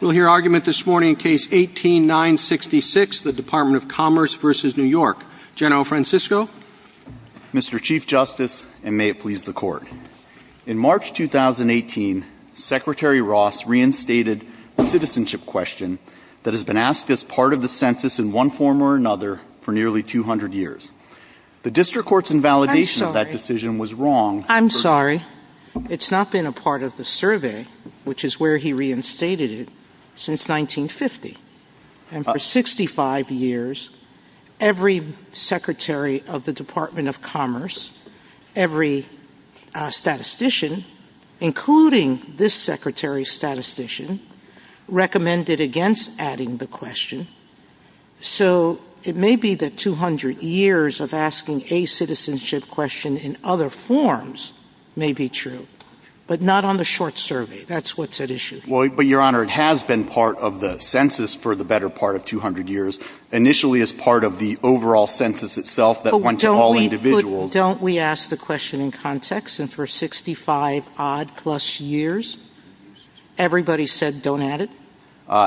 We'll hear argument this morning in Case 18-966, the Department of Commerce v. New York. General Francisco. Mr. Chief Justice, and may it please the Court. In March 2018, Secretary Ross reinstated a citizenship question that has been asked as part of the census in one form or another for nearly 200 years. The District Court's invalidation of that decision was wrong. I'm sorry. It's not been a part of the survey, which is where he reinstated it, since 1950. And for 65 years, every Secretary of the Department of Commerce, every statistician, including this Secretary's statistician, recommended against adding the question. So it may be that 200 years of asking a citizenship question in other forms may be true, but not on the short survey. That's what's at issue. But, Your Honor, it has been part of the census for the better part of 200 years, initially as part of the overall census itself that went to all individuals. But don't we ask the question in context? And for 65-odd-plus years, everybody said don't add it?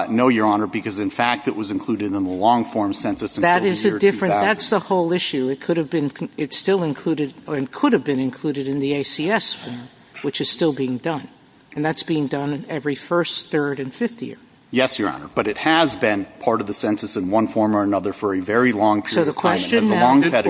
No, Your Honor, because, in fact, it was included in the long-form census until the year 2000. That's the whole issue. It could have been included in the ACS, which is still being done. And that's being done every first, third, and fifth year. Yes, Your Honor, but it has been part of the census in one form or another for a very long period of time. So the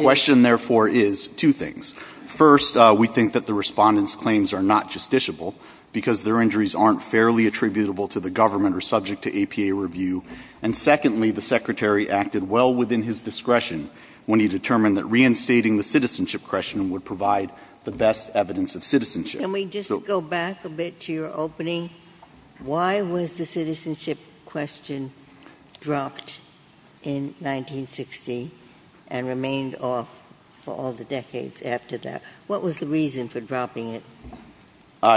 question, therefore, is two things. First, we think that the Respondent's claims are not justiciable because their injuries aren't fairly attributable to the government or subject to APA review. And secondly, the Secretary acted well within his discretion when he determined that reinstating the citizenship question would provide the best evidence of citizenship. Can we just go back a bit to your opening? Why was the citizenship question dropped in 1960 and remained off for all the decades after that? What was the reason for dropping it?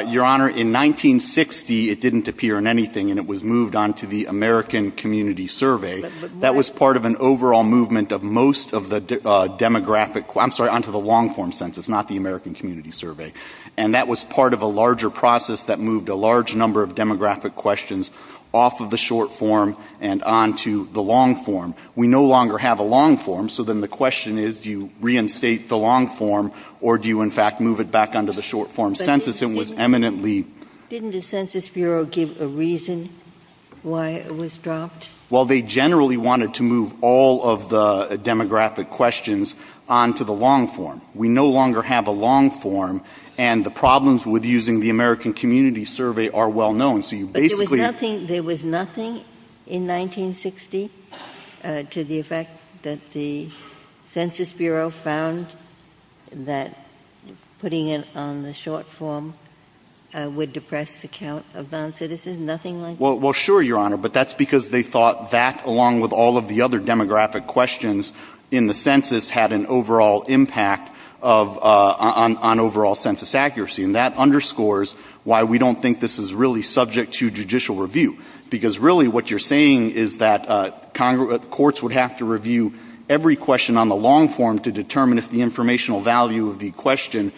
Your Honor, in 1960, it didn't appear in anything, and it was moved on to the American Community Survey. That was part of an overall movement of most of the demographic – I'm sorry, on to the long-form census, not the American Community Survey. And that was part of a larger process that moved a large number of demographic questions off of the short form and on to the long form. We no longer have a long form, so then the question is, do you reinstate the long form, or do you, in fact, move it back on to the short form census? It was eminently – Didn't the Census Bureau give a reason why it was dropped? Well, they generally wanted to move all of the demographic questions on to the long form. We no longer have a long form, and the problems with using the American Community Survey are well known. But there was nothing in 1960 to the effect that the Census Bureau found that putting it on the short form would depress the count of non-citizens? Nothing like that? Well, sure, Your Honor, but that's because they thought that, along with all of the other demographic questions in the census, had an overall impact on overall census accuracy. And that underscores why we don't think this is really subject to judicial review. Because really what you're saying is that courts would have to review every question on the long form to determine if the informational value of the question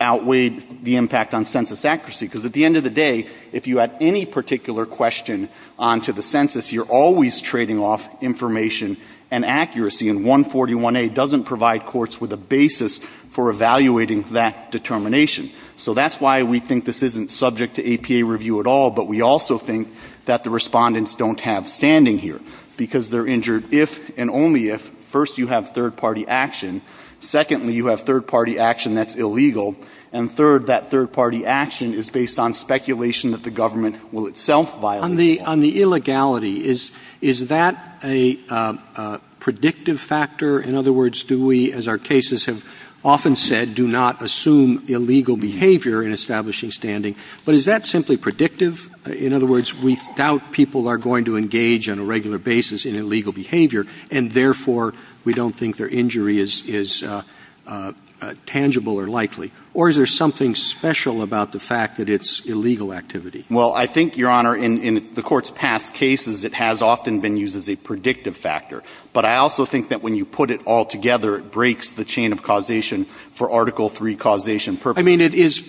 outweighed the impact on census accuracy. Because at the end of the day, if you add any particular question on to the census, you're always trading off information and accuracy. And 141A doesn't provide courts with a basis for evaluating that determination. So that's why we think this isn't subject to APA review at all, but we also think that the respondents don't have standing here. Because they're injured if and only if, first, you have third-party action, secondly, you have third-party action that's illegal, and third, that third-party action is based on speculation that the government will itself violate it. On the illegality, is that a predictive factor? In other words, do we, as our cases have often said, do not assume illegal behavior in establishing standing? But is that simply predictive? In other words, we doubt people are going to engage on a regular basis in illegal behavior, and therefore we don't think their injury is tangible or likely. Or is there something special about the fact that it's illegal activity? Well, I think, Your Honor, in the court's past cases, it has often been used as a predictive factor. But I also think that when you put it all together, it breaks the chain of causation for Article III causation purposes. I mean, it is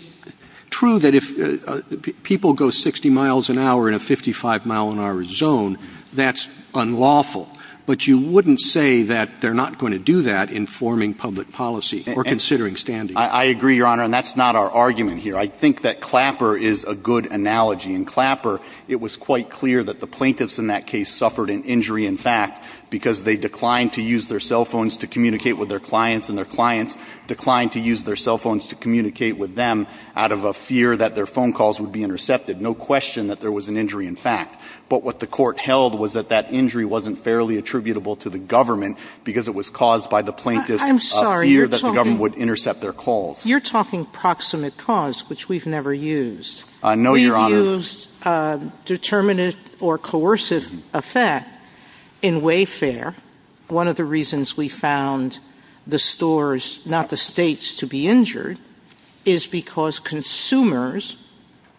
true that if people go 60 miles an hour in a 55-mile-an-hour zone, that's unlawful. But you wouldn't say that they're not going to do that in forming public policy or considering standing. I agree, Your Honor, and that's not our argument here. I think that Clapper is a good analogy. It was quite clear that the plaintiffs in that case suffered an injury in fact because they declined to use their cell phones to communicate with their clients, and their clients declined to use their cell phones to communicate with them out of a fear that their phone calls would be intercepted. No question that there was an injury in fact. But what the court held was that that injury wasn't fairly attributable to the government because it was caused by the plaintiffs' fear that the government would intercept their calls. You're talking proximate cause, which we've never used. No, Your Honor. We've used determinate or coercive effect in Wayfair. One of the reasons we found the stores, not the states, to be injured is because consumers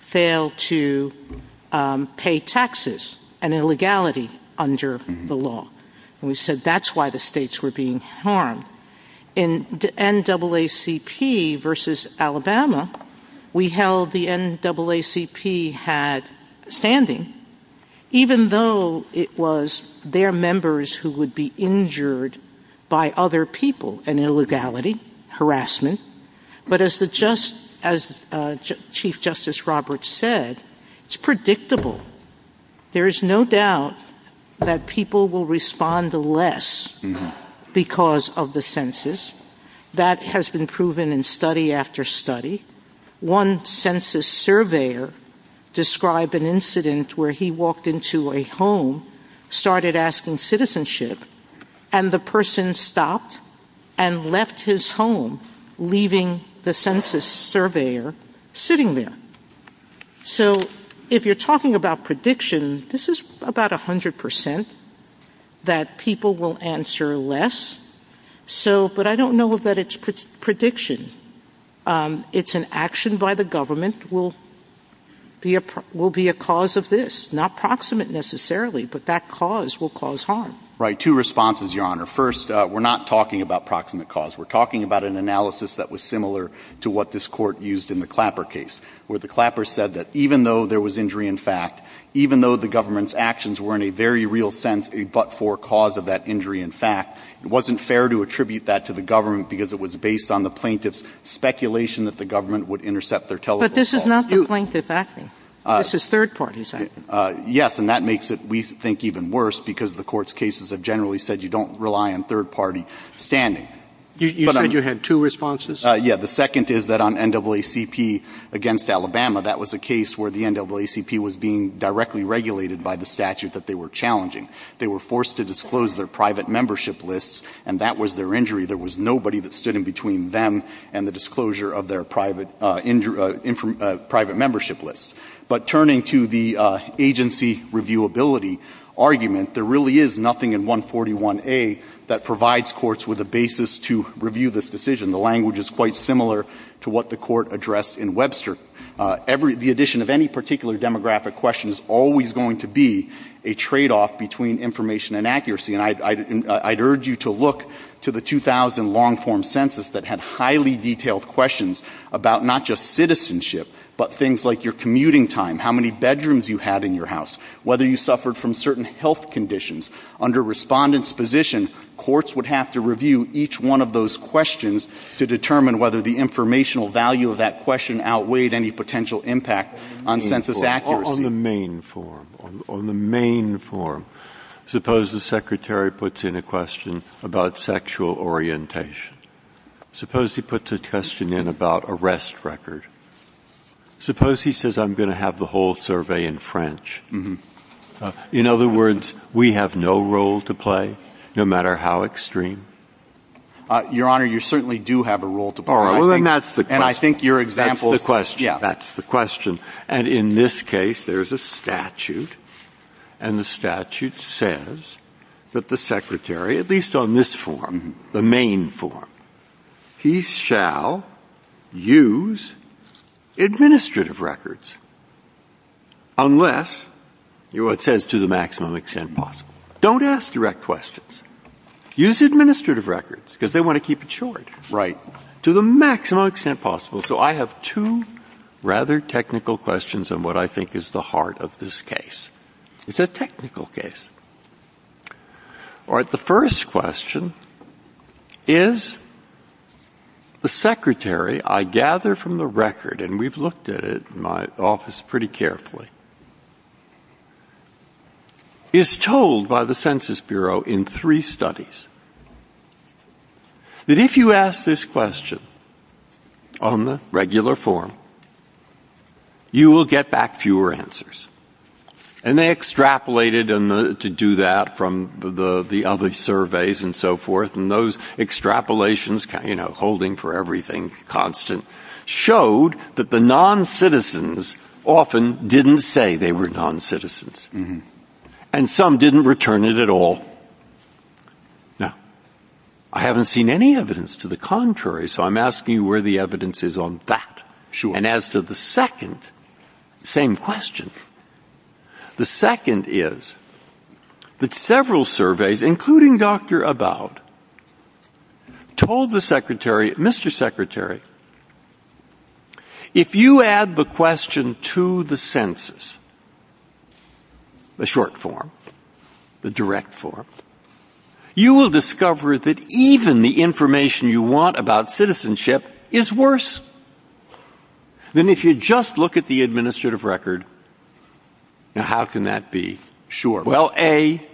failed to pay taxes, an illegality under the law. We said that's why the states were being harmed. In NAACP v. Alabama, we held the NAACP had standing, even though it was their members who would be injured by other people, an illegality, harassment. But as Chief Justice Roberts said, it's predictable. There is no doubt that people will respond less because of the census. That has been proven in study after study. One census surveyor described an incident where he walked into a home, started asking citizenship, and the person stopped and left his home, leaving the census surveyor sitting there. So if you're talking about prediction, this is about 100% that people will answer less. But I don't know that it's prediction. It's an action by the government will be a cause of this. Not proximate necessarily, but that cause will cause harm. Right. Two responses, Your Honor. First, we're not talking about proximate cause. We're talking about an analysis that was similar to what this court used in the Clapper case, where the Clapper said that even though there was injury in fact, even though the government's actions were in a very real sense a but-for cause of that injury in fact, it wasn't fair to attribute that to the government because it was based on the plaintiff's speculation that the government would intercept their telephone call. But this is not the plaintiff's action. This is third-party's action. Yes, and that makes it, we think, even worse because the court's cases have generally said you don't rely on third-party standing. You said you had two responses? Yes, the second is that on NAACP against Alabama, that was a case where the NAACP was being directly regulated by the statute that they were challenging. They were forced to disclose their private membership list, and that was their injury. There was nobody that stood in between them and the disclosure of their private membership list. But turning to the agency reviewability argument, there really is nothing in 141A that provides courts with a basis to review this decision. The language is quite similar to what the court addressed in Webster. The addition of any particular demographic question is always going to be a tradeoff between information and accuracy, and I'd urge you to look to the 2000 long-form census that had highly detailed questions about not just citizenship, but things like your commuting time, how many bedrooms you had in your house, whether you suffered from certain health conditions. Under respondent's position, courts would have to review each one of those questions to determine whether the informational value of that question outweighed any potential impact on census accuracy. On the main form, suppose the secretary puts in a question about sexual orientation. Suppose he puts a question in about arrest record. Suppose he says, I'm going to have the whole survey in French. In other words, we have no role to play, no matter how extreme. Your Honor, you certainly do have a role to play. That's the question. And in this case, there's a statute. And the statute says that the secretary, at least on this form, the main form, he shall use administrative records. Unless, you know what it says, to the maximum extent possible. Don't ask direct questions. Use administrative records because they want to keep it short. Right. To the maximum extent possible. So I have two rather technical questions on what I think is the heart of this case. It's a technical case. All right. The first question is, the secretary, I gather from the record, and we've looked at it in my office pretty carefully, is told by the Census Bureau in three studies that if you ask this question on the regular form, you will get back fewer answers. And they extrapolated to do that from the other surveys and so forth. And those extrapolations, you know, holding for everything constant, showed that the non-citizens often didn't say they were non-citizens. And some didn't return it at all. Now, I haven't seen any evidence to the contrary, so I'm asking where the evidence is on that. Sure. And as to the second, same question. The second is that several surveys, including Dr. About, told the secretary, Mr. Secretary, if you add the question to the census, the short form, the direct form, you will discover that even the information you want about citizenship is worse than if you just look at the administrative record. Now, how can that be? Sure. Well, A,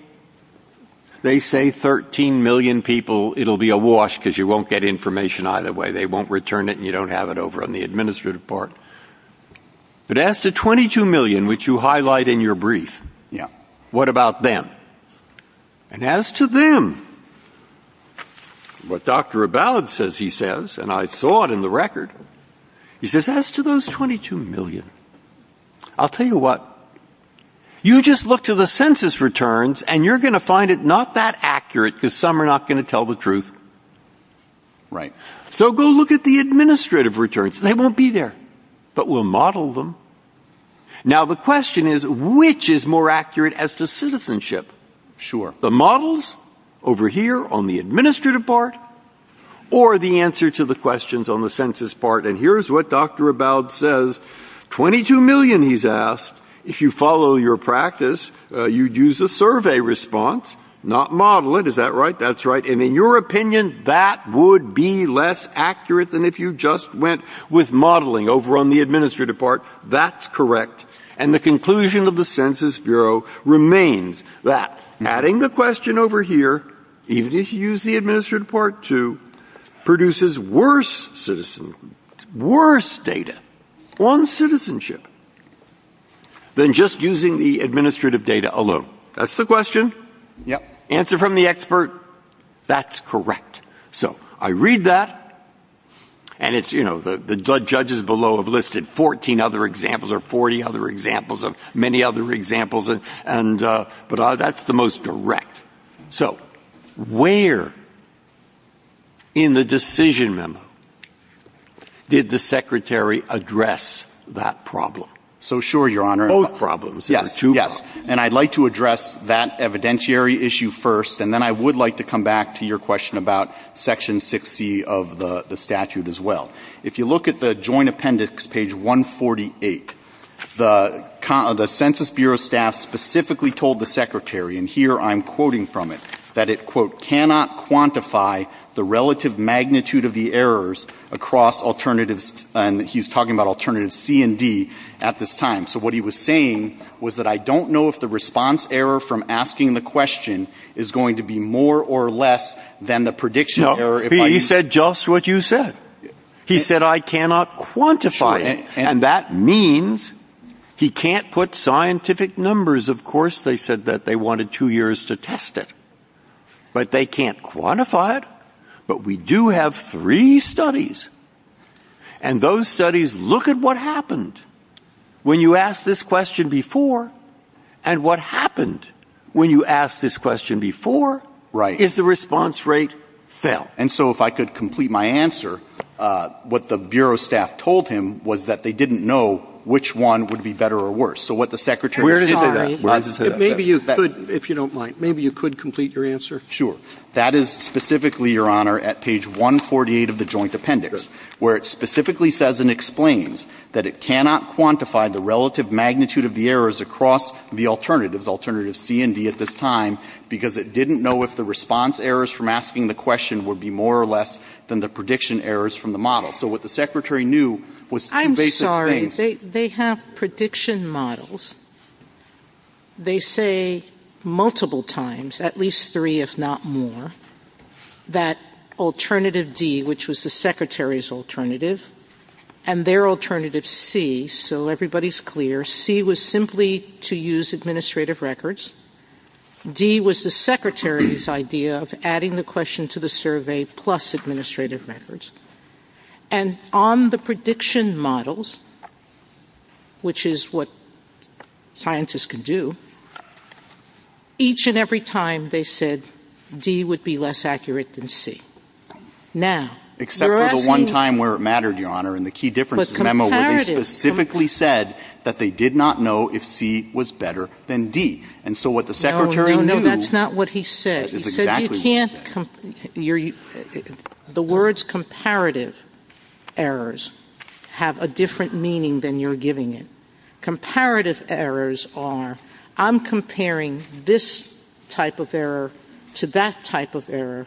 they say 13 million people, it'll be a wash because you won't get information either way. They won't return it and you don't have it over on the administrative part. But as to 22 million, which you highlight in your brief, what about them? And as to them, what Dr. About says, he says, and I saw it in the record, he says, as to those 22 million, I'll tell you what, you just look to the census returns and you're going to find it not that accurate because some are not going to tell the truth. Right. So go look at the administrative returns. They won't be there, but we'll model them. Now, the question is, which is more accurate as to citizenship? Sure. The models over here on the administrative part or the answer to the questions on the census part? And here's what Dr. About says. 22 million, he's asked. If you follow your practice, you'd use a survey response, not model it. Is that right? That's right. That's correct. And the conclusion of the Census Bureau remains that adding the question over here, even if you use the administrative part too, produces worse data on citizenship than just using the administrative data alone. That's the question. Yep. Answer from the expert. That's correct. So I read that, and it's, you know, the judges below have listed 14 other examples or 40 other examples of many other examples, but that's the most direct. So where in the decision memo did the secretary address that problem? So sure, Your Honor. Both problems. Yes. And I'd like to address that evidentiary issue first, and then I would like to come back to your question about Section 60 of the statute as well. If you look at the Joint Appendix, page 148, the Census Bureau staff specifically told the secretary, and here I'm quoting from it, that it, quote, cannot quantify the relative magnitude of the errors across alternatives, and he's talking about alternatives C and D at this time. So what he was saying was that I don't know if the response error from asking the question is going to be more or less than the prediction error. No, he said just what you said. He said I cannot quantify it, and that means he can't put scientific numbers. Of course they said that they wanted two years to test it, but they can't quantify it. But we do have three studies, and those studies look at what happened. When you asked this question before, and what happened when you asked this question before is the response rate fell. And so if I could complete my answer, what the Bureau staff told him was that they didn't know which one would be better or worse. So what the secretary said to that. Maybe you could, if you don't mind, maybe you could complete your answer. Sure. That is specifically, Your Honor, at page 148 of the Joint Appendix, where it specifically says and explains that it cannot quantify the relative magnitude of the errors across the alternatives, alternatives C and D at this time, because it didn't know if the response errors from asking the question would be more or less than the prediction errors from the model. So what the secretary knew was two basic things. I'm sorry. They have prediction models. They say multiple times, at least three if not more, that alternative D, which was the secretary's alternative, and their alternative C, so everybody is clear, C was simply to use administrative records. D was the secretary's idea of adding the question to the survey plus administrative records. And on the prediction models, which is what scientists can do, each and every time they said D would be less accurate than C. Except for the one time where it mattered, Your Honor, in the key differences memo, where they specifically said that they did not know if C was better than D. No, no, that's not what he said. He said the words comparative errors have a different meaning than you're giving it. Comparative errors are I'm comparing this type of error to that type of error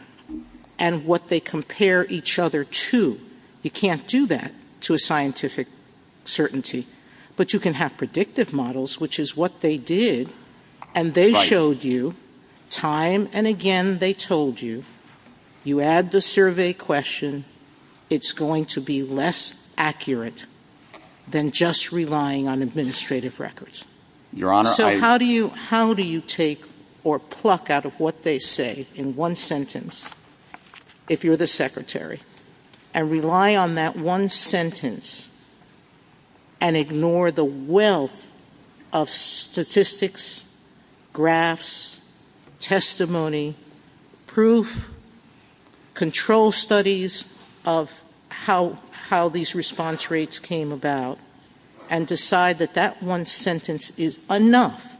and what they compare each other to. You can't do that to a scientific certainty. But you can have predictive models, which is what they did, and they showed you time and again they told you, you add the survey question, it's going to be less accurate than just relying on administrative records. So how do you take or pluck out of what they say in one sentence, if you're the secretary, and rely on that one sentence and ignore the wealth of statistics, graphs, testimony, proof, control studies of how these response rates came about, and decide that that one sentence is enough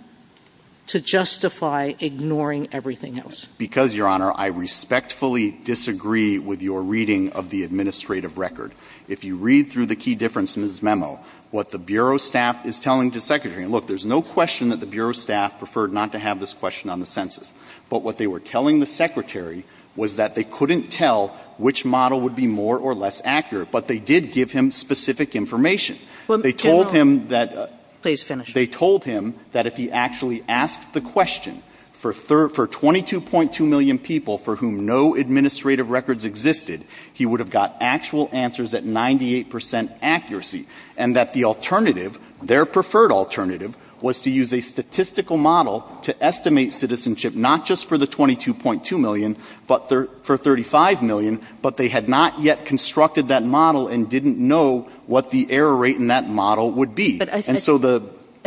to justify ignoring everything else? Because, Your Honor, I respectfully disagree with your reading of the administrative record. If you read through the key differences memo, what the Bureau staff is telling the secretary, look, there's no question that the Bureau staff preferred not to have this question on the census, but what they were telling the secretary was that they couldn't tell which model would be more or less accurate, but they did give him specific information. They told him that if he actually asked the question for 22.2 million people for whom no administrative records existed, he would have got actual answers at 98% accuracy, and that the alternative, their preferred alternative, was to use a statistical model to estimate citizenship, not just for the 22.2 million, but for 35 million, but they had not yet constructed that model and didn't know what the error rate in that model would be.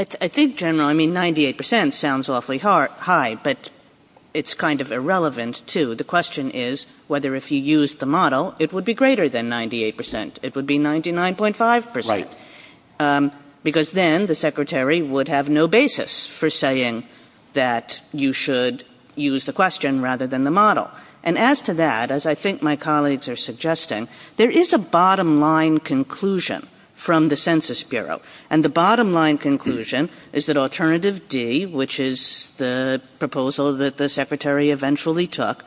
I think, Your Honor, I mean, 98% sounds awfully high, but it's kind of irrelevant, too. The question is whether if he used the model, it would be greater than 98%. It would be 99.5%. Because then the secretary would have no basis for saying that you should use the question rather than the model. And as to that, as I think my colleagues are suggesting, there is a bottom-line conclusion from the Census Bureau, and the bottom-line conclusion is that alternative D, which is the proposal that the secretary eventually took,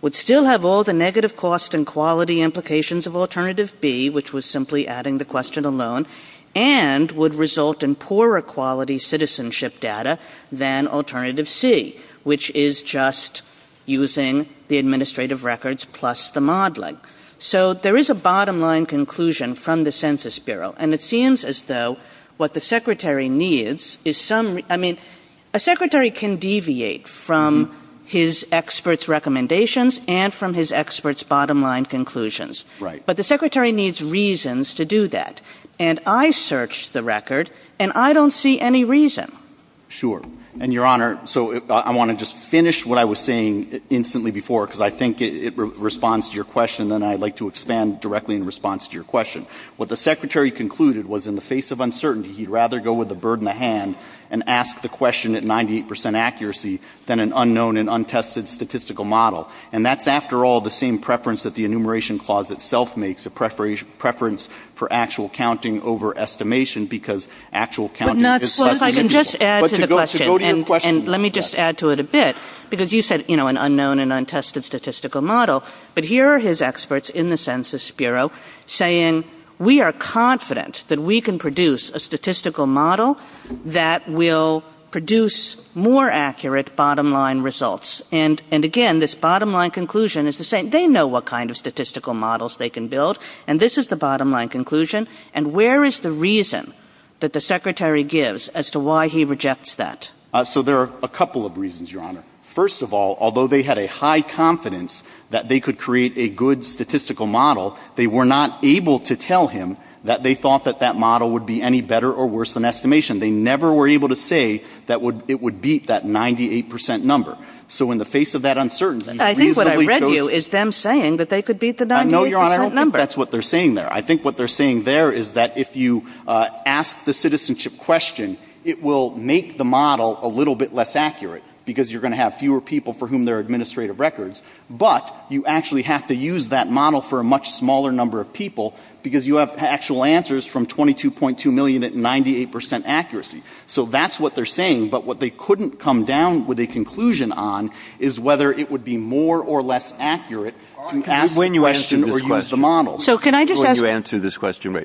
would still have all the negative cost and quality implications of alternative B, which was simply adding the question alone, and would result in poorer quality citizenship data than alternative C, which is just using the administrative records plus the modeling. So there is a bottom-line conclusion from the Census Bureau, and it seems as though what the secretary needs is some, I mean, a secretary can deviate from his expert's recommendations and from his expert's bottom-line conclusions. But the secretary needs reasons to do that. And I searched the record, and I don't see any reason. Sure. And, Your Honor, so I want to just finish what I was saying instantly before, because I think it responds to your question, and then I'd like to expand directly in response to your question. What the secretary concluded was in the face of uncertainty, he'd rather go with the bird in the hand and ask the question at 98% accuracy than an unknown and untested statistical model. And that's, after all, the same preference that the Enumeration Clause itself makes, a preference for actual counting over estimation, because actual counting is such an individual. Let me just add to it a bit, because you said, you know, an unknown and untested statistical model. But here are his experts in the Census Bureau saying, we are confident that we can produce a statistical model that will produce more accurate bottom-line results. And, again, this bottom-line conclusion is the same. They know what kind of statistical models they can build, and this is the bottom-line conclusion. And where is the reason that the secretary gives as to why he rejects that? So there are a couple of reasons, Your Honor. First of all, although they had a high confidence that they could create a good statistical model, they were not able to tell him that they thought that that model would be any better or worse than estimation. They never were able to say that it would beat that 98% number. So in the face of that uncertainty— I think what I read you is them saying that they could beat the 98% number. No, Your Honor, I don't think that's what they're saying there. I think what they're saying there is that if you ask the citizenship question, it will make the model a little bit less accurate, because you're going to have fewer people for whom there are administrative records. But you actually have to use that model for a much smaller number of people, because you have actual answers from 22.2 million at 98% accuracy. So that's what they're saying, but what they couldn't come down with a conclusion on is whether it would be more or less accurate to ask the question or use the model. So can I just ask— Before you answer this question,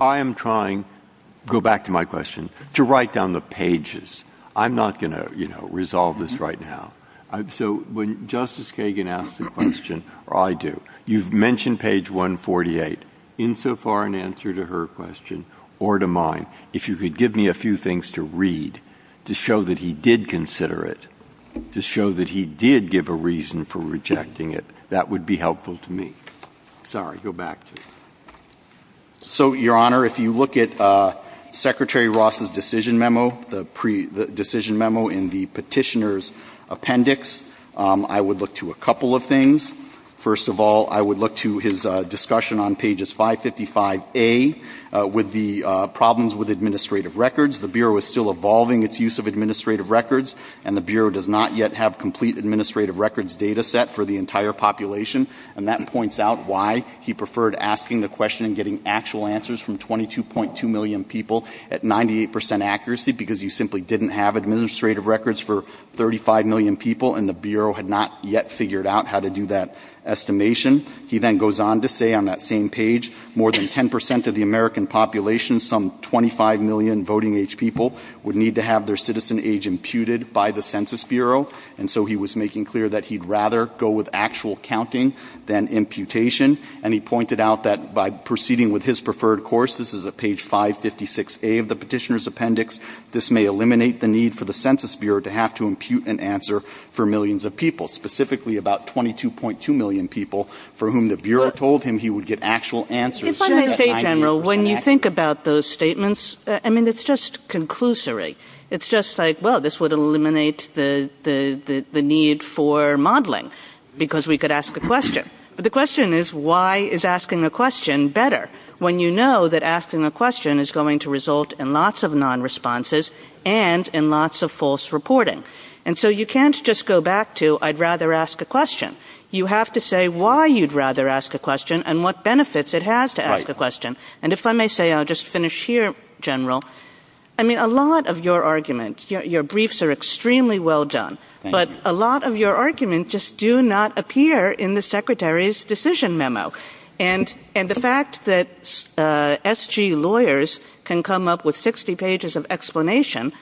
I am trying—go back to my question—to write down the pages. I'm not going to, you know, resolve this right now. So when Justice Kagan asked the question, or I do, you've mentioned page 148, insofar an answer to her question or to mine. If you could give me a few things to read to show that he did consider it, to show that he did give a reason for rejecting it, that would be helpful to me. Sorry, go back. So, Your Honor, if you look at Secretary Ross's decision memo, the decision memo in the petitioner's appendix, I would look to a couple of things. First of all, I would look to his discussion on pages 555A with the problems with administrative records. The Bureau is still evolving its use of administrative records, and the Bureau does not yet have complete administrative records data set for the entire population. And that points out why he preferred asking the question and getting actual answers from 22.2 million people at 98% accuracy, because you simply didn't have administrative records for 35 million people, and the Bureau had not yet figured out how to do that estimation. He then goes on to say on that same page, more than 10% of the American population, some 25 million voting-age people, would need to have their citizen age imputed by the Census Bureau. And so he was making clear that he'd rather go with actual counting than imputation. And he pointed out that by proceeding with his preferred course, this is at page 556A of the petitioner's appendix, this may eliminate the need for the Census Bureau to have to impute an answer for millions of people, specifically about 22.2 million people for whom the Bureau told him he would get actual answers. If I may say, General, when you think about those statements, I mean, it's just conclusory. It's just like, well, this would eliminate the need for modeling, because we could ask the question. But the question is, why is asking the question better, when you know that asking the question is going to result in lots of non-responses and in lots of false reporting? And so you can't just go back to, I'd rather ask a question. You have to say why you'd rather ask a question and what benefits it has to ask the question. And if I may say, I'll just finish here, General. I mean, a lot of your arguments, your briefs are extremely well done, but a lot of your arguments just do not appear in the Secretary's decision memo. And the fact that S.G. lawyers can come up with 60 pages of explanation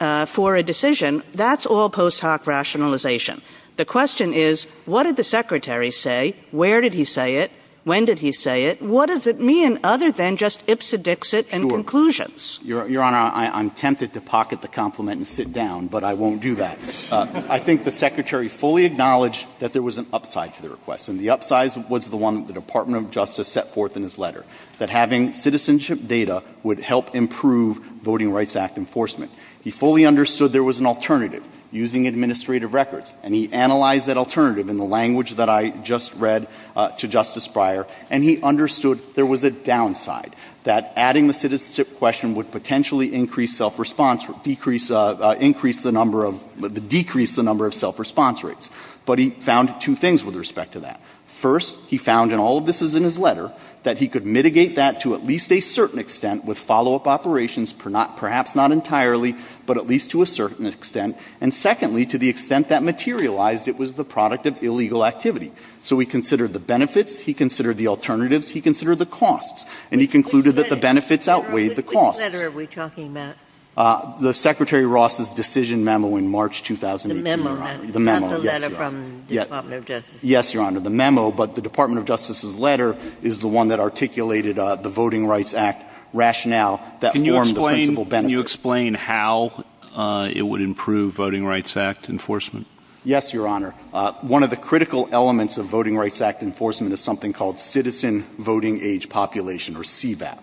for a decision, that's all post hoc rationalization. The question is, what did the Secretary say? Where did he say it? When did he say it? What does it mean other than just ipsodixit and conclusions? Your Honor, I'm tempted to pocket the compliment and sit down, but I won't do that. I think the Secretary fully acknowledged that there was an upside to the request, and the upside was the one that the Department of Justice set forth in his letter, that having citizenship data would help improve Voting Rights Act enforcement. He fully understood there was an alternative, using administrative records, and he analyzed that alternative in the language that I just read to Justice Breyer, and he understood there was a downside, that adding the citizenship question would potentially increase self-response, decrease the number of, decrease the number of self-response rates. But he found two things with respect to that. First, he found, and all of this is in his letter, that he could mitigate that to at least a certain extent with follow-up operations, perhaps not entirely, but at least to a certain extent. And secondly, to the extent that materialized, it was the product of illegal activity. So he considered the benefits, he considered the alternatives, he considered the costs, and he concluded that the benefits outweighed the costs. Which letter are we talking about? The Secretary Ross's decision memo in March 2018. The memo, right? Yes, Your Honor. The memo, but the Department of Justice's letter is the one that articulated the Voting Rights Act rationale that formed the principal benefits. Can you explain how it would improve Voting Rights Act enforcement? Yes, Your Honor. One of the critical elements of Voting Rights Act enforcement is something called citizen voting age population, or CVAP.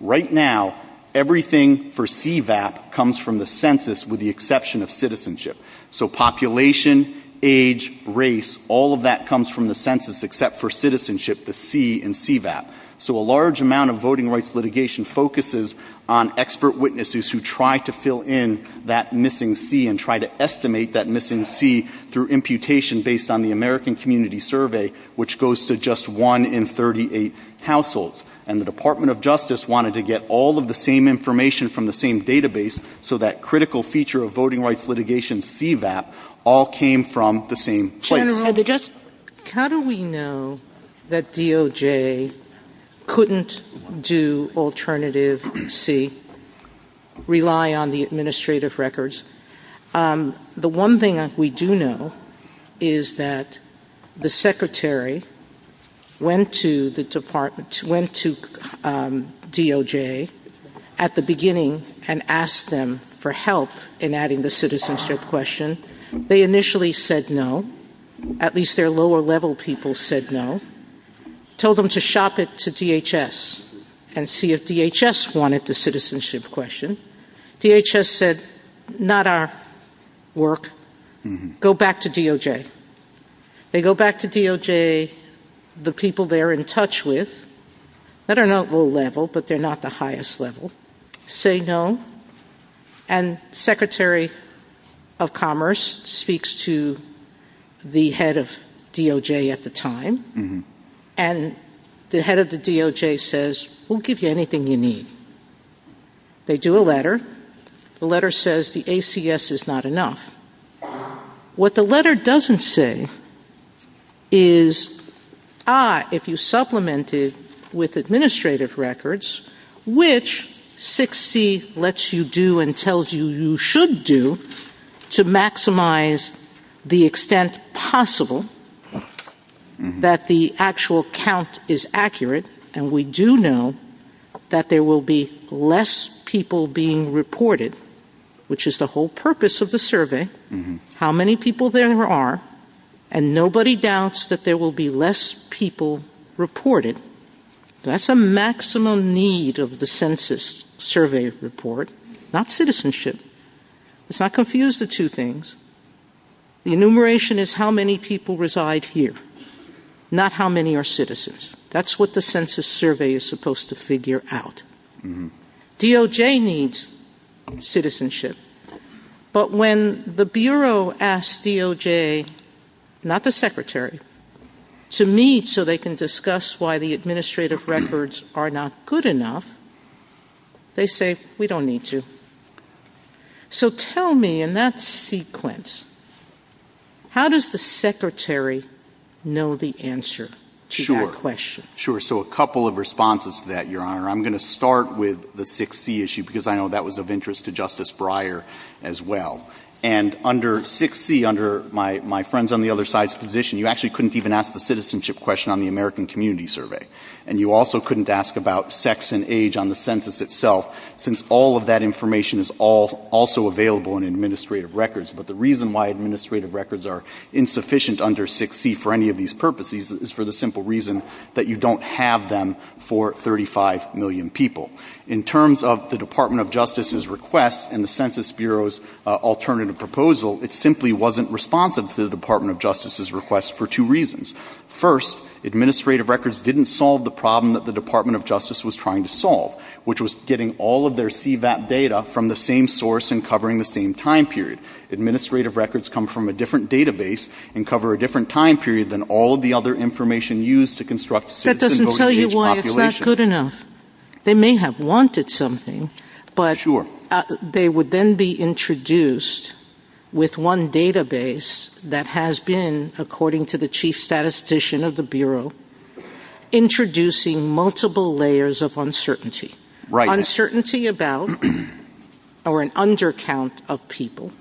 Right now, everything for CVAP comes from the census with the exception of citizenship. So population, age, race, all of that comes from the census except for citizenship, the C in CVAP. So a large amount of voting rights litigation focuses on expert witnesses who try to fill in that missing C and try to estimate that missing C through imputation based on the American Community Survey, which goes to just one in 38 households. And the Department of Justice wanted to get all of the same information from the same database so that critical feature of voting rights litigation, CVAP, all came from the same place. General, how do we know that DOJ couldn't do alternative C, rely on the administrative records? The one thing that we do know is that the secretary went to the department, went to DOJ at the beginning and asked them for help in adding the citizenship question. They initially said no. At least their lower level people said no. Told them to shop it to DHS and see if DHS wanted the citizenship question. DHS said, not our work, go back to DOJ. They go back to DOJ, the people they're in touch with, I don't know at what level, but they're not the highest level, say no, and Secretary of Commerce speaks to the head of DOJ at the time. And the head of the DOJ says, we'll give you anything you need. They do a letter. The letter says the ACS is not enough. What the letter doesn't say is, ah, if you supplement it with administrative records, which 6C lets you do and tells you you should do to maximize the extent possible that the actual count is accurate, and we do know that there will be less people being reported, which is the whole purpose of the survey, how many people there are, and nobody doubts that there will be less people reported. That's a maximum need of the census survey report, not citizenship. Let's not confuse the two things. The enumeration is how many people reside here, not how many are citizens. That's what the census survey is supposed to figure out. DOJ needs citizenship. But when the Bureau asks DOJ, not the Secretary, to meet so they can discuss why the administrative records are not good enough, they say, we don't need to. So tell me, in that sequence, how does the Secretary know the answer to that question? Sure. So a couple of responses to that, Your Honor. I'm going to start with the 6C issue because I know that was of interest to Justice Breyer as well. And under 6C, under my friends on the other side's position, you actually couldn't even ask the citizenship question on the American Community Survey. And you also couldn't ask about sex and age on the census itself, since all of that information is also available in administrative records. But the reason why administrative records are insufficient under 6C for any of these purposes is for the simple reason that you don't have them for 35 million people. In terms of the Department of Justice's request and the Census Bureau's alternative proposal, it simply wasn't responsive to the Department of Justice's request for two reasons. First, administrative records didn't solve the problem that the Department of Justice was trying to solve, which was getting all of their CVAP data from the same source and covering the same time period. Administrative records come from a different database and cover a different time period than all of the other information used to construct citizenship. That doesn't tell you why it's not good enough. They may have wanted something, but they would then be introduced with one database that has been, according to the chief statistician of the Bureau, introducing multiple layers of uncertainty. Uncertainty about or an undercount of people,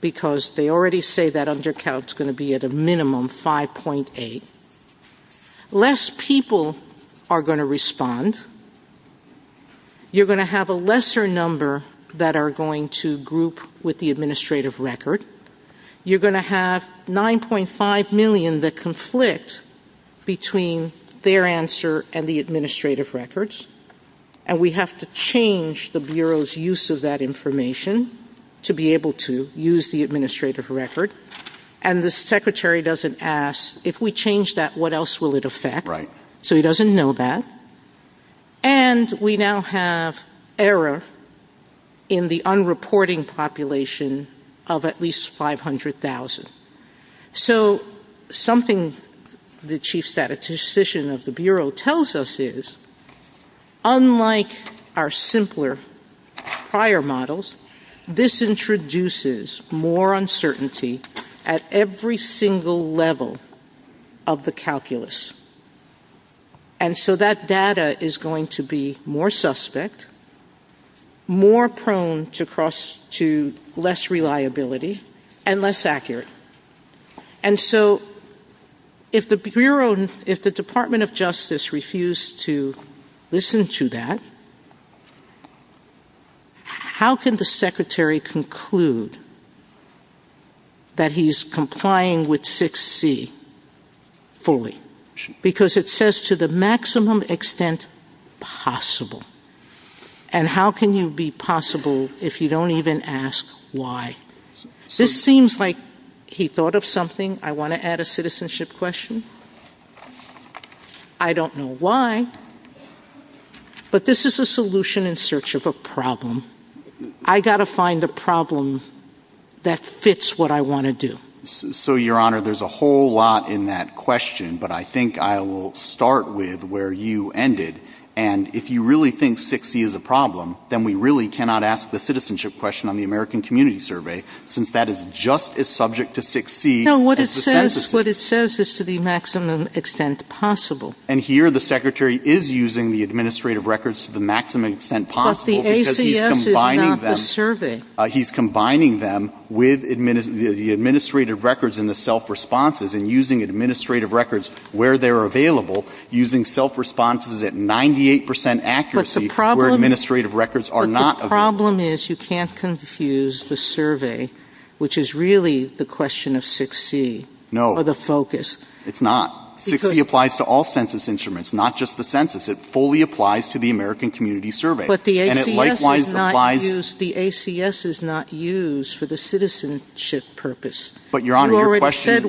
because they already say that undercount is going to be at a minimum 5.8. Less people are going to respond. You're going to have a lesser number that are going to group with the administrative record. You're going to have 9.5 million that conflict between their answer and the administrative records. And we have to change the Bureau's use of that information to be able to use the administrative record. And the secretary doesn't ask, if we change that, what else will it affect? So he doesn't know that. And we now have error in the unreporting population of at least 500,000. So something the chief statistician of the Bureau tells us is, unlike our simpler prior models, this introduces more uncertainty at every single level of the calculus. And so that data is going to be more suspect, more prone to less reliability, and less accurate. And so if the Department of Justice refused to listen to that, how can the secretary conclude that he's complying with 6C fully? Because it says to the maximum extent possible. And how can you be possible if you don't even ask why? This seems like he thought of something. I want to add a citizenship question. I don't know why. But this is a solution in search of a problem. I've got to find a problem that fits what I want to do. So, Your Honor, there's a whole lot in that question. But I think I will start with where you ended. And if you really think 6C is a problem, then we really cannot ask the citizenship question on the American Community Survey, since that is just as subject to 6C as the statistician. No, what it says is to the maximum extent possible. And here the secretary is using the administrative records to the maximum extent possible. But the ACS is not the survey. He's combining them with the administrative records and the self-responses, and using administrative records where they're available, using self-responses at 98% accuracy where administrative records are not available. But the problem is you can't confuse the survey, which is really the question of 6C. No. Or the focus. It's not. 6C applies to all census instruments, not just the census. It fully applies to the American Community Survey. But the ACS is not used for the citizenship purpose. But, Your Honor, your question is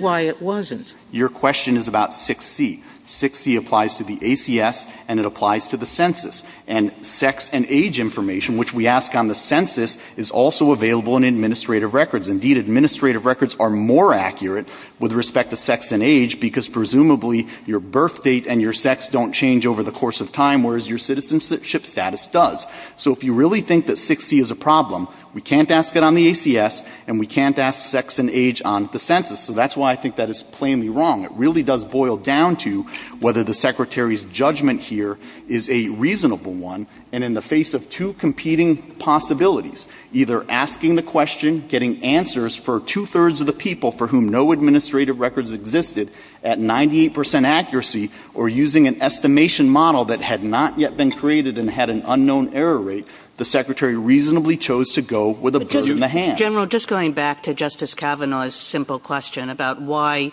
about 6C. 6C applies to the ACS, and it applies to the census. And sex and age information, which we ask on the census, is also available in administrative records. Indeed, administrative records are more accurate with respect to sex and age because presumably your birth date and your sex don't change over the course of time, whereas your citizenship status does. So if you really think that 6C is a problem, we can't ask it on the ACS, and we can't ask sex and age on the census. So that's why I think that is plainly wrong. It really does boil down to whether the secretary's judgment here is a reasonable one, and in the face of two competing possibilities, either asking the question, getting answers for two-thirds of the people for whom no administrative records existed at 98% accuracy, or using an estimation model that had not yet been created and had an unknown error rate, the secretary reasonably chose to go with a bridge in the hand. General, just going back to Justice Kavanaugh's simple question about why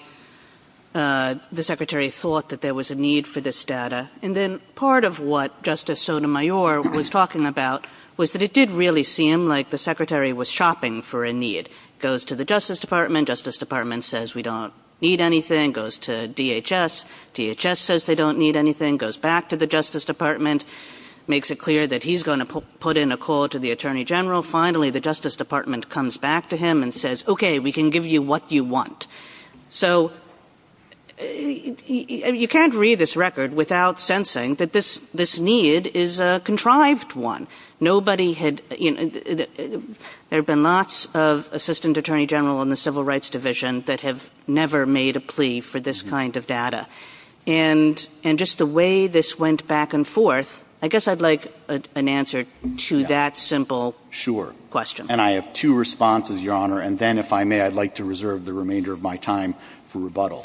the secretary thought that there was a need for this data, and then part of what Justice Sotomayor was talking about was that it did really seem like the secretary was shopping for a need. It goes to the Justice Department. The Justice Department says we don't need anything. It goes to DHS. DHS says they don't need anything. It goes back to the Justice Department. It makes it clear that he's going to put in a call to the Attorney General. Finally, the Justice Department comes back to him and says, okay, we can give you what you want. So you can't read this record without sensing that this need is a contrived one. There have been lots of Assistant Attorney General in the Civil Rights Division that have never made a plea for this kind of data, and just the way this went back and forth, I guess I'd like an answer to that simple question. Sure, and I have two responses, Your Honor, and then, if I may, I'd like to reserve the remainder of my time for rebuttal.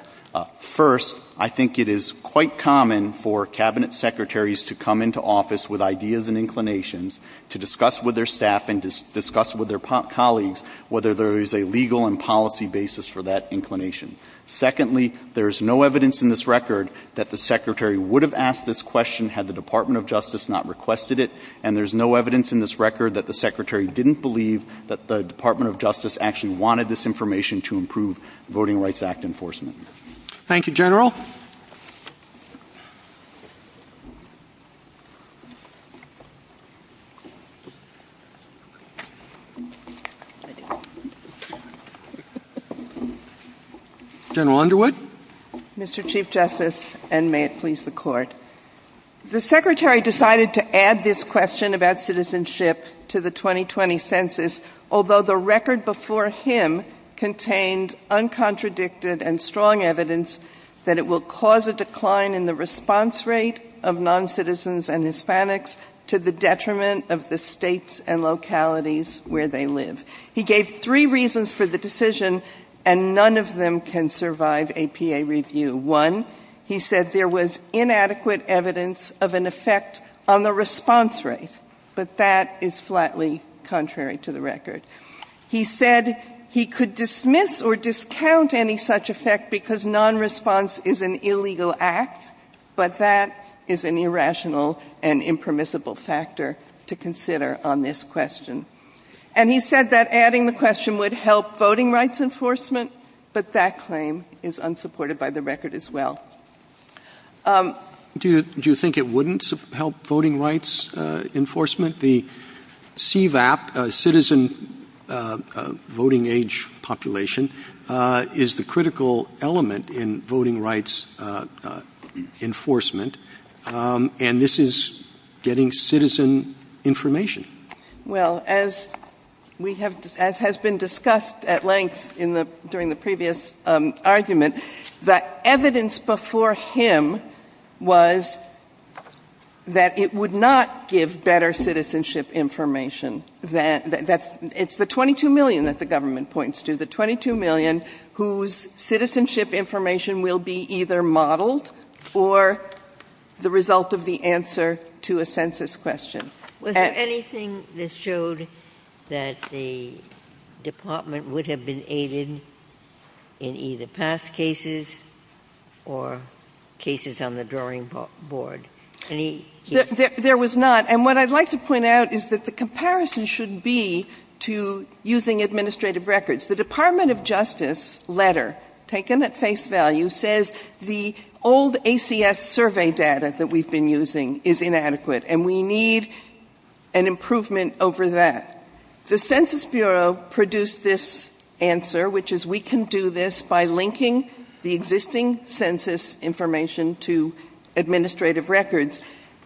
First, I think it is quite common for Cabinet secretaries to come into office with ideas and inclinations to discuss with their staff and discuss with their colleagues whether there is a legal and policy basis for that inclination. Secondly, there is no evidence in this record that the secretary would have asked this question had the Department of Justice not requested it, and there is no evidence in this record that the secretary didn't believe that the Department of Justice actually wanted this information to improve Voting Rights Act enforcement. Thank you, General. General Underwood. Mr. Chief Justice, and may it please the Court, the secretary decided to add this question about citizenship to the 2020 Census, although the record before him contained uncontradicted and strong evidence that it will cause a decline in the response rate of noncitizens and Hispanics to the detriment of the states and localities where they live. He gave three reasons for the decision, and none of them can survive a PA review. One, he said there was inadequate evidence of an effect on the response rate, but that is flatly contrary to the record. He said he could dismiss or discount any such effect because nonresponse is an illegal act, but that is an irrational and impermissible factor to consider on this question. And he said that adding the question would help voting rights enforcement, but that claim is unsupported by the record as well. Do you think it wouldn't help voting rights enforcement? The CVAP, citizen voting age population, is the critical element in voting rights enforcement, and this is getting citizen information. Well, as has been discussed at length during the previous argument, the evidence before him was that it would not give better citizenship information. It's the 22 million that the government points to, the 22 million whose citizenship information will be either modeled or the result of the answer to a Census question. Was there anything that showed that the department would have been aided in either past cases or cases on the drawing board? There was not, and what I'd like to point out is that the comparison should be to using administrative records. The Department of Justice letter, taken at face value, says the old ACS survey data that we've been using is inadequate, and we need an improvement over that. The Census Bureau produced this answer, which is we can do this by linking the existing census information to administrative records.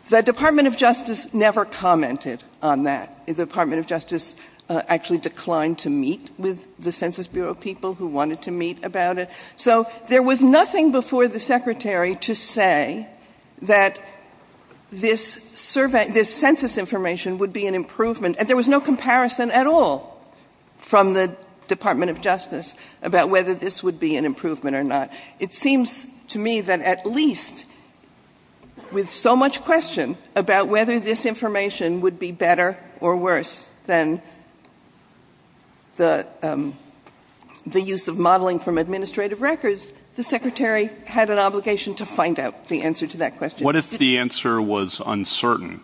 The Department of Justice never commented on that. The Department of Justice actually declined to meet with the Census Bureau people who wanted to meet about it. So there was nothing before the Secretary to say that this census information would be an improvement, and there was no comparison at all from the Department of Justice about whether this would be an improvement or not. It seems to me that at least with so much question about whether this information would be better or worse than the use of modeling from administrative records, the Secretary had an obligation to find out the answer to that question. What if the answer was uncertain?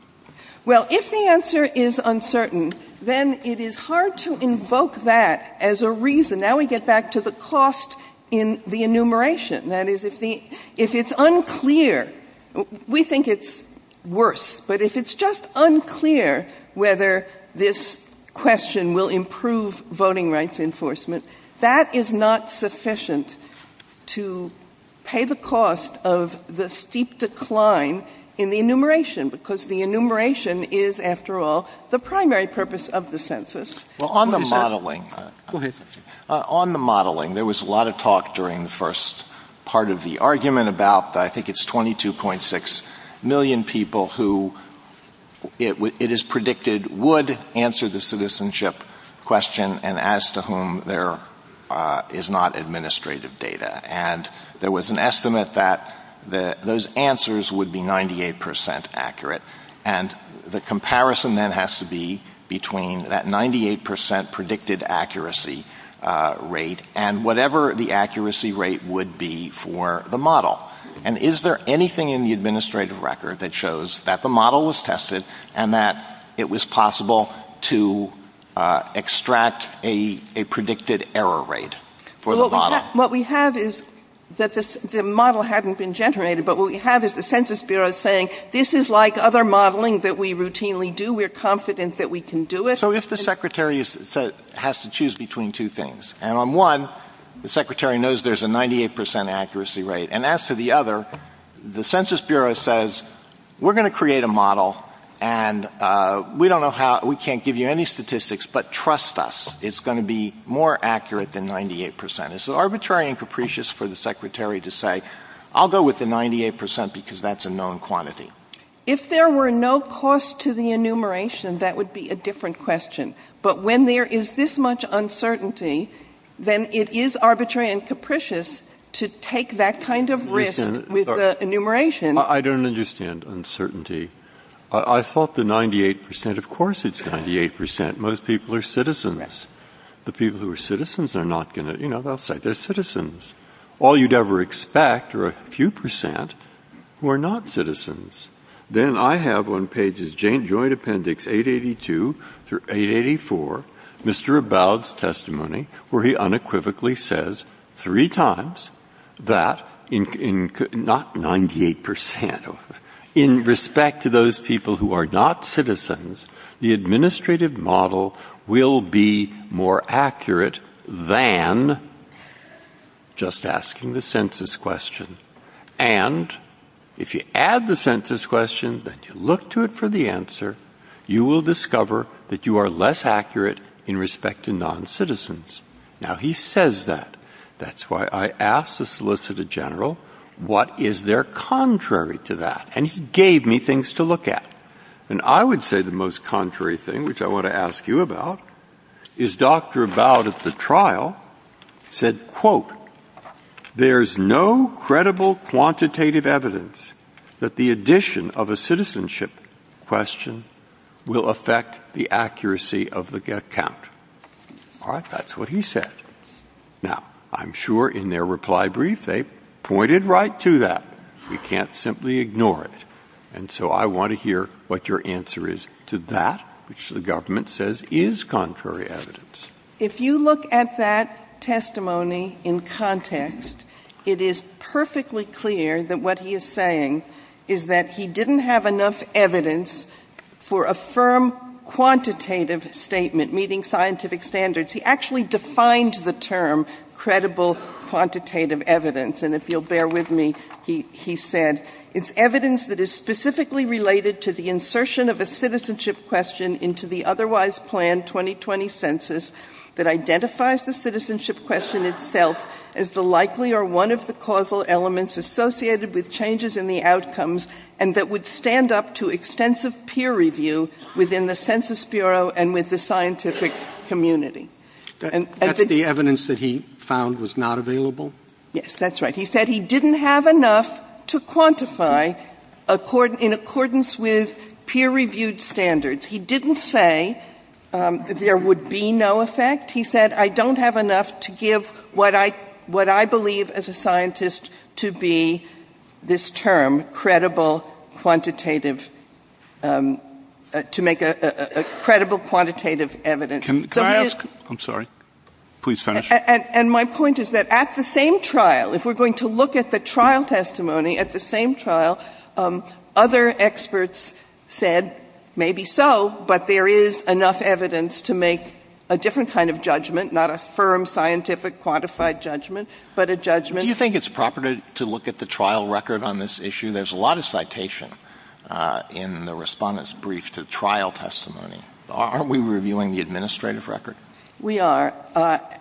Well, if the answer is uncertain, then it is hard to invoke that as a reason. Now we get back to the cost in the enumeration. That is, if it's unclear, we think it's worse, but if it's just unclear whether this question will improve voting rights enforcement, that is not sufficient to pay the cost of the steep decline in the enumeration, because the enumeration is, after all, the primary purpose of the census. On the modeling, there was a lot of talk during the first part of the argument about, I think it's 22.6 million people who it is predicted would answer the citizenship question and as to whom there is not administrative data. And there was an estimate that those answers would be 98 percent accurate. And the comparison then has to be between that 98 percent predicted accuracy rate and whatever the accuracy rate would be for the model. And is there anything in the administrative record that shows that the model was tested and that it was possible to extract a predicted error rate for the model? What we have is that the model hadn't been generated, but what we have is the Census Bureau saying, this is like other modeling that we routinely do. We're confident that we can do it. So if the secretary has to choose between two things, and on one, the secretary knows there's a 98 percent accuracy rate, and as to the other, the Census Bureau says, we're going to create a model and we can't give you any statistics, but trust us, it's going to be more accurate than 98 percent. It's arbitrary and capricious for the secretary to say, I'll go with the 98 percent because that's a known quantity. If there were no cost to the enumeration, that would be a different question. But when there is this much uncertainty, then it is arbitrary and capricious to take that kind of risk with the enumeration. I don't understand uncertainty. I thought the 98 percent, of course it's 98 percent. Most people are citizens. The people who are citizens are not going to, you know, they'll say they're citizens. All you'd ever expect are a few percent who are not citizens. Then I have on pages joint appendix 882 through 884, Mr. Abowd's testimony, where he unequivocally says three times that, not 98 percent, In respect to those people who are not citizens, the administrative model will be more accurate than just asking the census question. And if you add the census question, that you look to it for the answer, you will discover that you are less accurate in respect to non-citizens. Now he says that. That's why I asked the Solicitor General, what is there contrary to that? And he gave me things to look at. And I would say the most contrary thing, which I want to ask you about, is Dr. Abowd at the trial said, All right, that's what he said. Now, I'm sure in their reply brief they pointed right to that. We can't simply ignore it. And so I want to hear what your answer is to that, which the government says is contrary evidence. If you look at that testimony in context, it is perfectly clear that what he is saying is that he didn't have enough evidence for a firm quantitative statement meeting scientific standards. He actually defined the term credible quantitative evidence. And if you'll bear with me, he said, That's the evidence that he found was not available? Yes, that's right. He said he didn't have enough to quantify in accordance with peer-reviewed standards. He didn't say there would be no effect. He said, I don't have enough to give what I believe as a scientist to be this term, to make a credible quantitative evidence. Can I ask, I'm sorry, please finish. And my point is that at the same trial, if we're going to look at the trial testimony at the same trial, other experts said maybe so, but there is enough evidence to make a different kind of judgment, not a firm scientific quantified judgment, but a judgment. Do you think it's proper to look at the trial record on this issue? There's a lot of citation in the respondent's brief to trial testimony. Aren't we reviewing the administrative record? We are.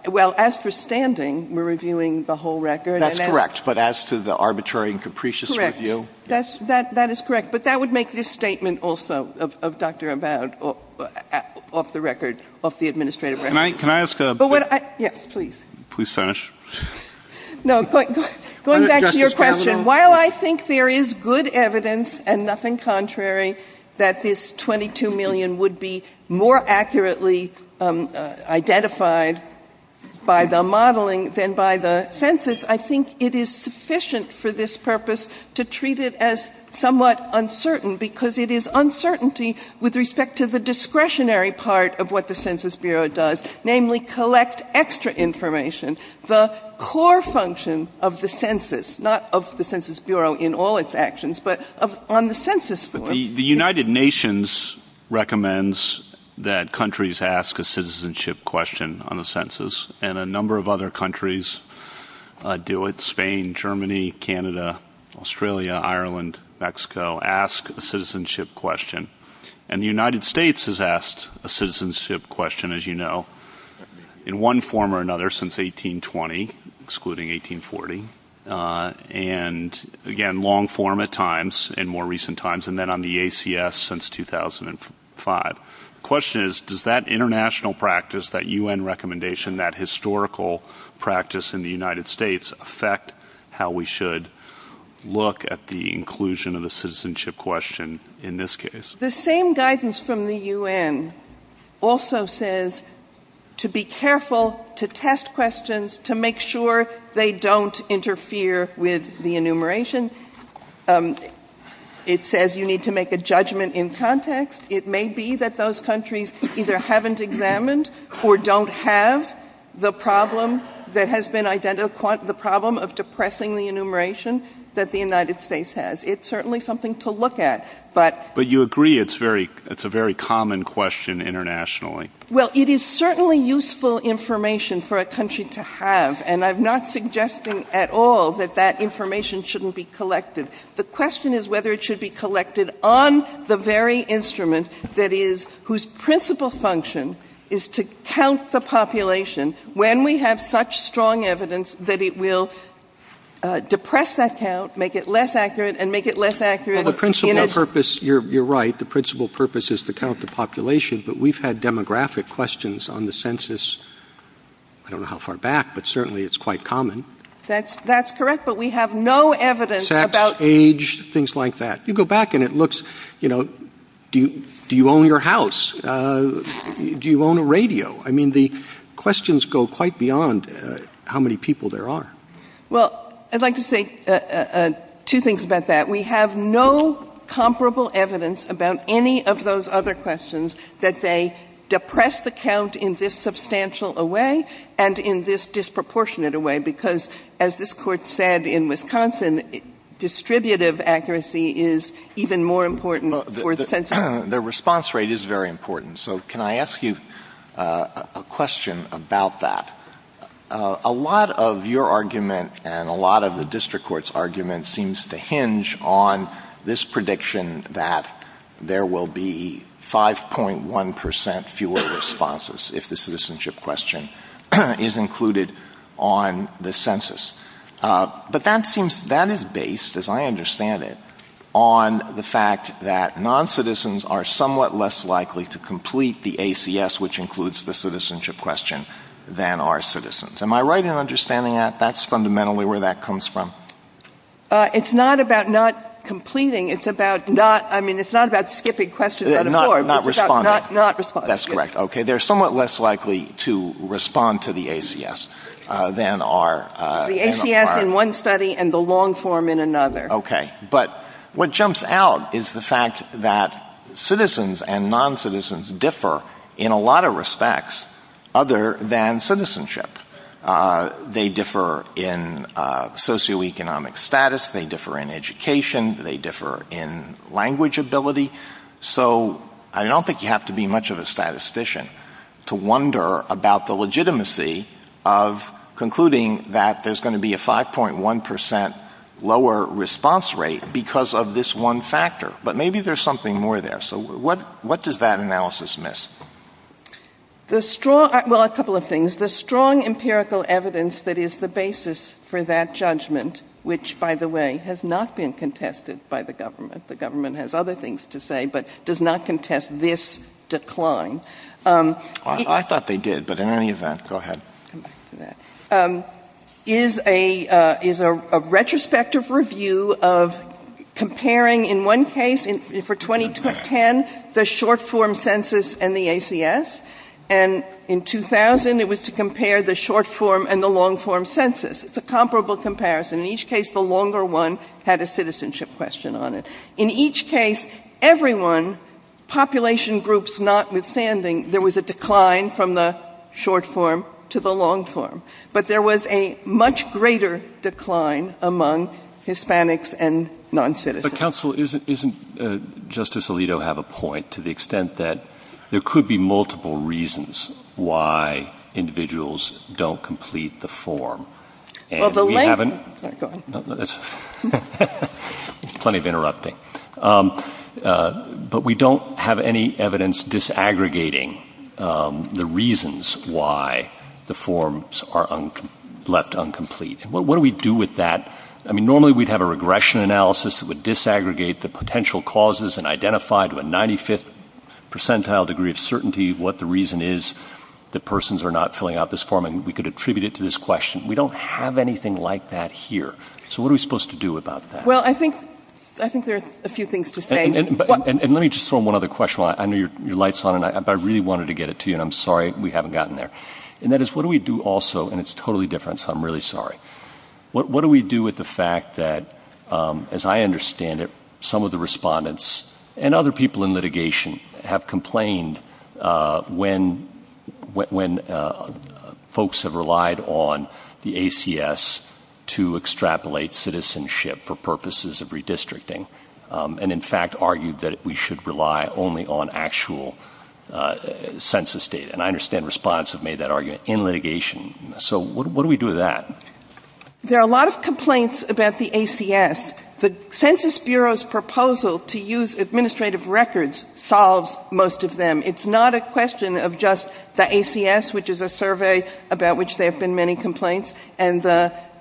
Well, as for standing, we're reviewing the whole record. That's correct. But as to the arbitrary and capricious review? Correct. That is correct. But that would make this statement also of Dr. Abad off the record, off the administrative record. Can I ask a question? Yes, please. Please finish. No, going back to your question, while I think there is good evidence and nothing contrary that this $22 million would be more accurately identified by the modeling than by the census, I think it is sufficient for this purpose to treat it as somewhat uncertain, because it is uncertainty with respect to the discretionary part of what the Census Bureau does, namely collect extra information, the core function of the census, not of the Census Bureau in all its actions, but on the census. The United Nations recommends that countries ask a citizenship question on the census, and a number of other countries do it, Spain, Germany, Canada, Australia, Ireland, Mexico, ask a citizenship question. And the United States has asked a citizenship question, as you know, in one form or another since 1820, excluding 1840, and again, long form at times in more recent times, and then on the ACS since 2005. The question is, does that international practice, that UN recommendation, that historical practice in the United States affect how we should look at the inclusion of the citizenship question in this case? The same guidance from the UN also says to be careful, to test questions, to make sure they don't interfere with the enumeration. It says you need to make a judgment in context. It may be that those countries either haven't examined or don't have the problem that has been identified, the problem of depressing the enumeration that the United States has. It's certainly something to look at. But you agree it's a very common question internationally. Well, it is certainly useful information for a country to have, and I'm not suggesting at all that that information shouldn't be collected. The question is whether it should be collected on the very instrument that is, whose principal function is to count the population when we have such strong evidence that it will depress that count, make it less accurate, and make it less accurate. Well, the principal purpose, you're right, the principal purpose is to count the population, but we've had demographic questions on the census. I don't know how far back, but certainly it's quite common. That's correct, but we have no evidence. Sex, age, things like that. You go back and it looks, you know, do you own your house? Do you own a radio? I mean, the questions go quite beyond how many people there are. Well, I'd like to say two things about that. We have no comparable evidence about any of those other questions that they depress the count in this substantial a way and in this disproportionate a way because, as this Court said in Wisconsin, distributive accuracy is even more important for the census. The response rate is very important, so can I ask you a question about that? A lot of your argument and a lot of the district court's argument seems to hinge on this prediction that there will be 5.1% fewer responses if the citizenship question is included on the census. But that is based, as I understand it, on the fact that noncitizens are somewhat less likely to complete the ACS, which includes the citizenship question, than are citizens. Am I right in understanding that? That's fundamentally where that comes from? It's not about not completing. It's about not, I mean, it's not about skipping questions anymore. Not responding. Not responding. That's correct, okay. They're somewhat less likely to respond to the ACS than are. The ACS in one study and the long form in another. Okay. But what jumps out is the fact that citizens and noncitizens differ in a lot of respects other than citizenship. They differ in socioeconomic status. They differ in education. They differ in language ability. So I don't think you have to be much of a statistician to wonder about the legitimacy of concluding that there's going to be a 5.1% lower response rate because of this one factor. But maybe there's something more there. So what does that analysis miss? Well, a couple of things. The strong empirical evidence that is the basis for that judgment, which, by the way, has not been contested by the government. The government has other things to say but does not contest this decline. I thought they did. But in any event, go ahead. Is a retrospective review of comparing in one case for 2010 the short form census and the ACS. And in 2000 it was to compare the short form and the long form census. It's a comparable comparison. In each case the longer one had a citizenship question on it. In each case, everyone, population groups notwithstanding, there was a decline from the short form to the long form. But there was a much greater decline among Hispanics and noncitizens. But, counsel, doesn't Justice Alito have a point to the extent that there could be multiple reasons why individuals don't complete the form? Go ahead. Plenty of interrupting. But we don't have any evidence disaggregating the reasons why the forms are left incomplete. What do we do with that? I mean, normally we'd have a regression analysis that would disaggregate the potential causes and identify to a 95th percentile degree of certainty what the reason is that persons are not filling out this form. And we could attribute it to this question. We don't have anything like that here. So what are we supposed to do about that? Well, I think there are a few things to say. And let me just throw one other question. I know your light's on, but I really wanted to get it to you, and I'm sorry we haven't gotten there. And that is what do we do also, and it's totally different, so I'm really sorry. What do we do with the fact that, as I understand it, some of the respondents and other people in litigation have complained when folks have relied on the ACS to extrapolate citizenship for purposes of redistricting and, in fact, argued that we should rely only on actual census data? And I understand respondents have made that argument in litigation. So what do we do with that? There are a lot of complaints about the ACS. The Census Bureau's proposal to use administrative records solves most of them. It's not a question of just the ACS, which is a survey about which there have been many complaints, and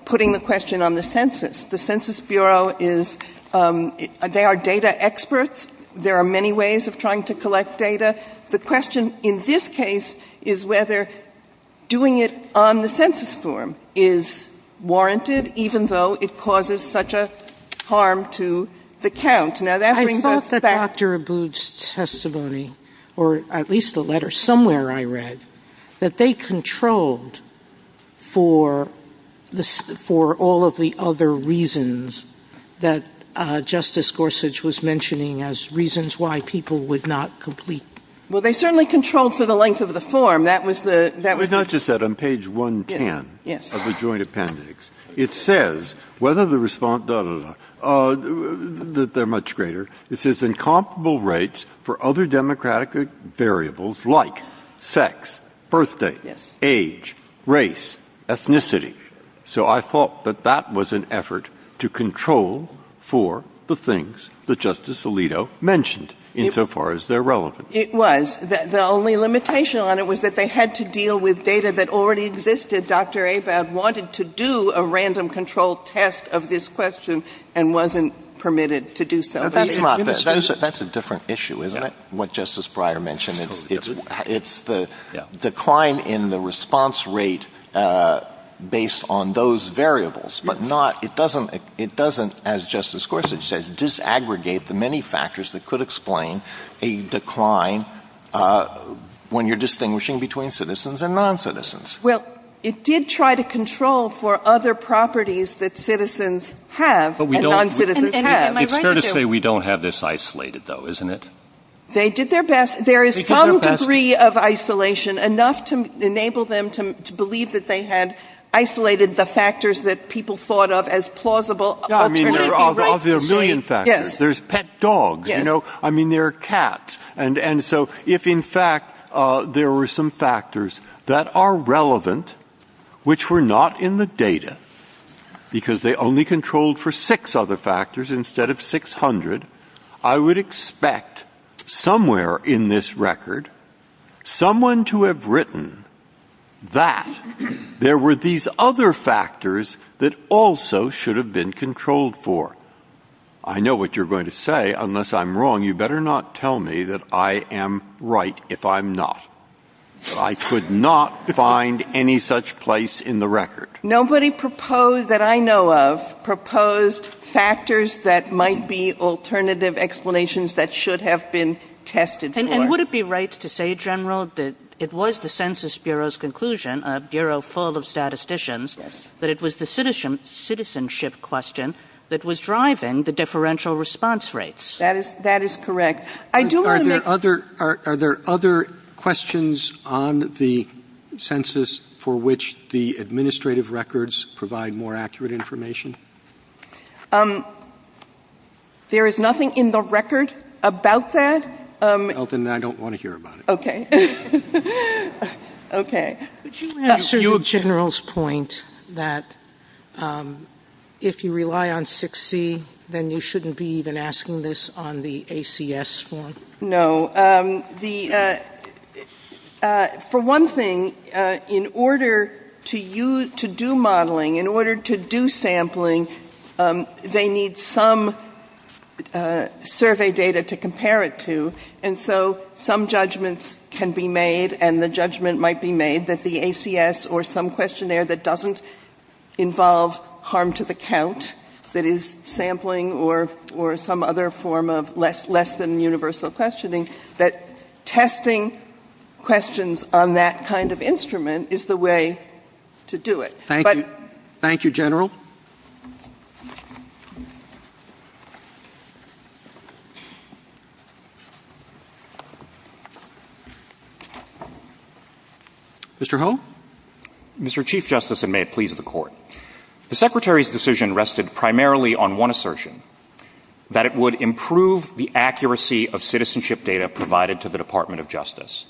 putting the question on the census. The Census Bureau is – they are data experts. There are many ways of trying to collect data. The question in this case is whether doing it on the census form is warranted, even though it causes such a harm to the count. I recall from Dr. Abboud's testimony, or at least the letter somewhere I read, that they controlled for all of the other reasons that Justice Gorsuch was mentioning as reasons why people would not complete. Well, they certainly controlled for the length of the form. It's not just that on page 110 of the Joint Appendix. It says whether the response – they're much greater. It says incomparable rates for other democratic variables like sex, birth date, age, race, ethnicity. So I thought that that was an effort to control for the things that Justice Alito mentioned, insofar as they're relevant. It was. The only limitation on it was that they had to deal with data that already existed. Dr. Abboud wanted to do a random control test of this question and wasn't permitted to do so. That's a different issue, isn't it, what Justice Breyer mentioned? It's the decline in the response rate based on those variables. It doesn't, as Justice Gorsuch says, disaggregate the many factors that could explain a decline when you're distinguishing between citizens and non-citizens. Well, it did try to control for other properties that citizens have and non-citizens have. It's fair to say we don't have this isolated, though, isn't it? They did their best. There is some degree of isolation, enough to enable them to believe that they had isolated the factors that people thought of as plausible. I mean, there are a million factors. There's pet dogs, you know. I mean, there are cats. And so if, in fact, there were some factors that are relevant, which were not in the data, because they only controlled for six other factors instead of 600, I would expect somewhere in this record someone to have written that there were these other factors that also should have been controlled for. I know what you're going to say. Unless I'm wrong, you better not tell me that I am right if I'm not. I could not find any such place in the record. Nobody proposed that I know of proposed factors that might be alternative explanations that should have been tested for. And would it be right to say, General, that it was the Census Bureau's conclusion, a bureau full of statisticians, that it was the citizenship question that was driving the differential response rates? That is correct. Are there other questions on the census for which the administrative records provide more accurate information? There is nothing in the record about that. Well, then I don't want to hear about it. Okay. Would you add to General's point that if you rely on 6C, then you shouldn't be even asking this on the ACS form? No. For one thing, in order to do modeling, in order to do sampling, they need some survey data to compare it to. And so some judgments can be made, and the judgment might be made that the ACS or some questionnaire that doesn't involve harm to the count, that is sampling or some other form of less than universal questioning, that testing questions on that kind of instrument is the way to do it. Thank you, General. Mr. Ho? Mr. Chief Justice, and may it please the Court, the Secretary's decision rested primarily on one assertion, that it would improve the accuracy of citizenship data provided to the Department of Justice.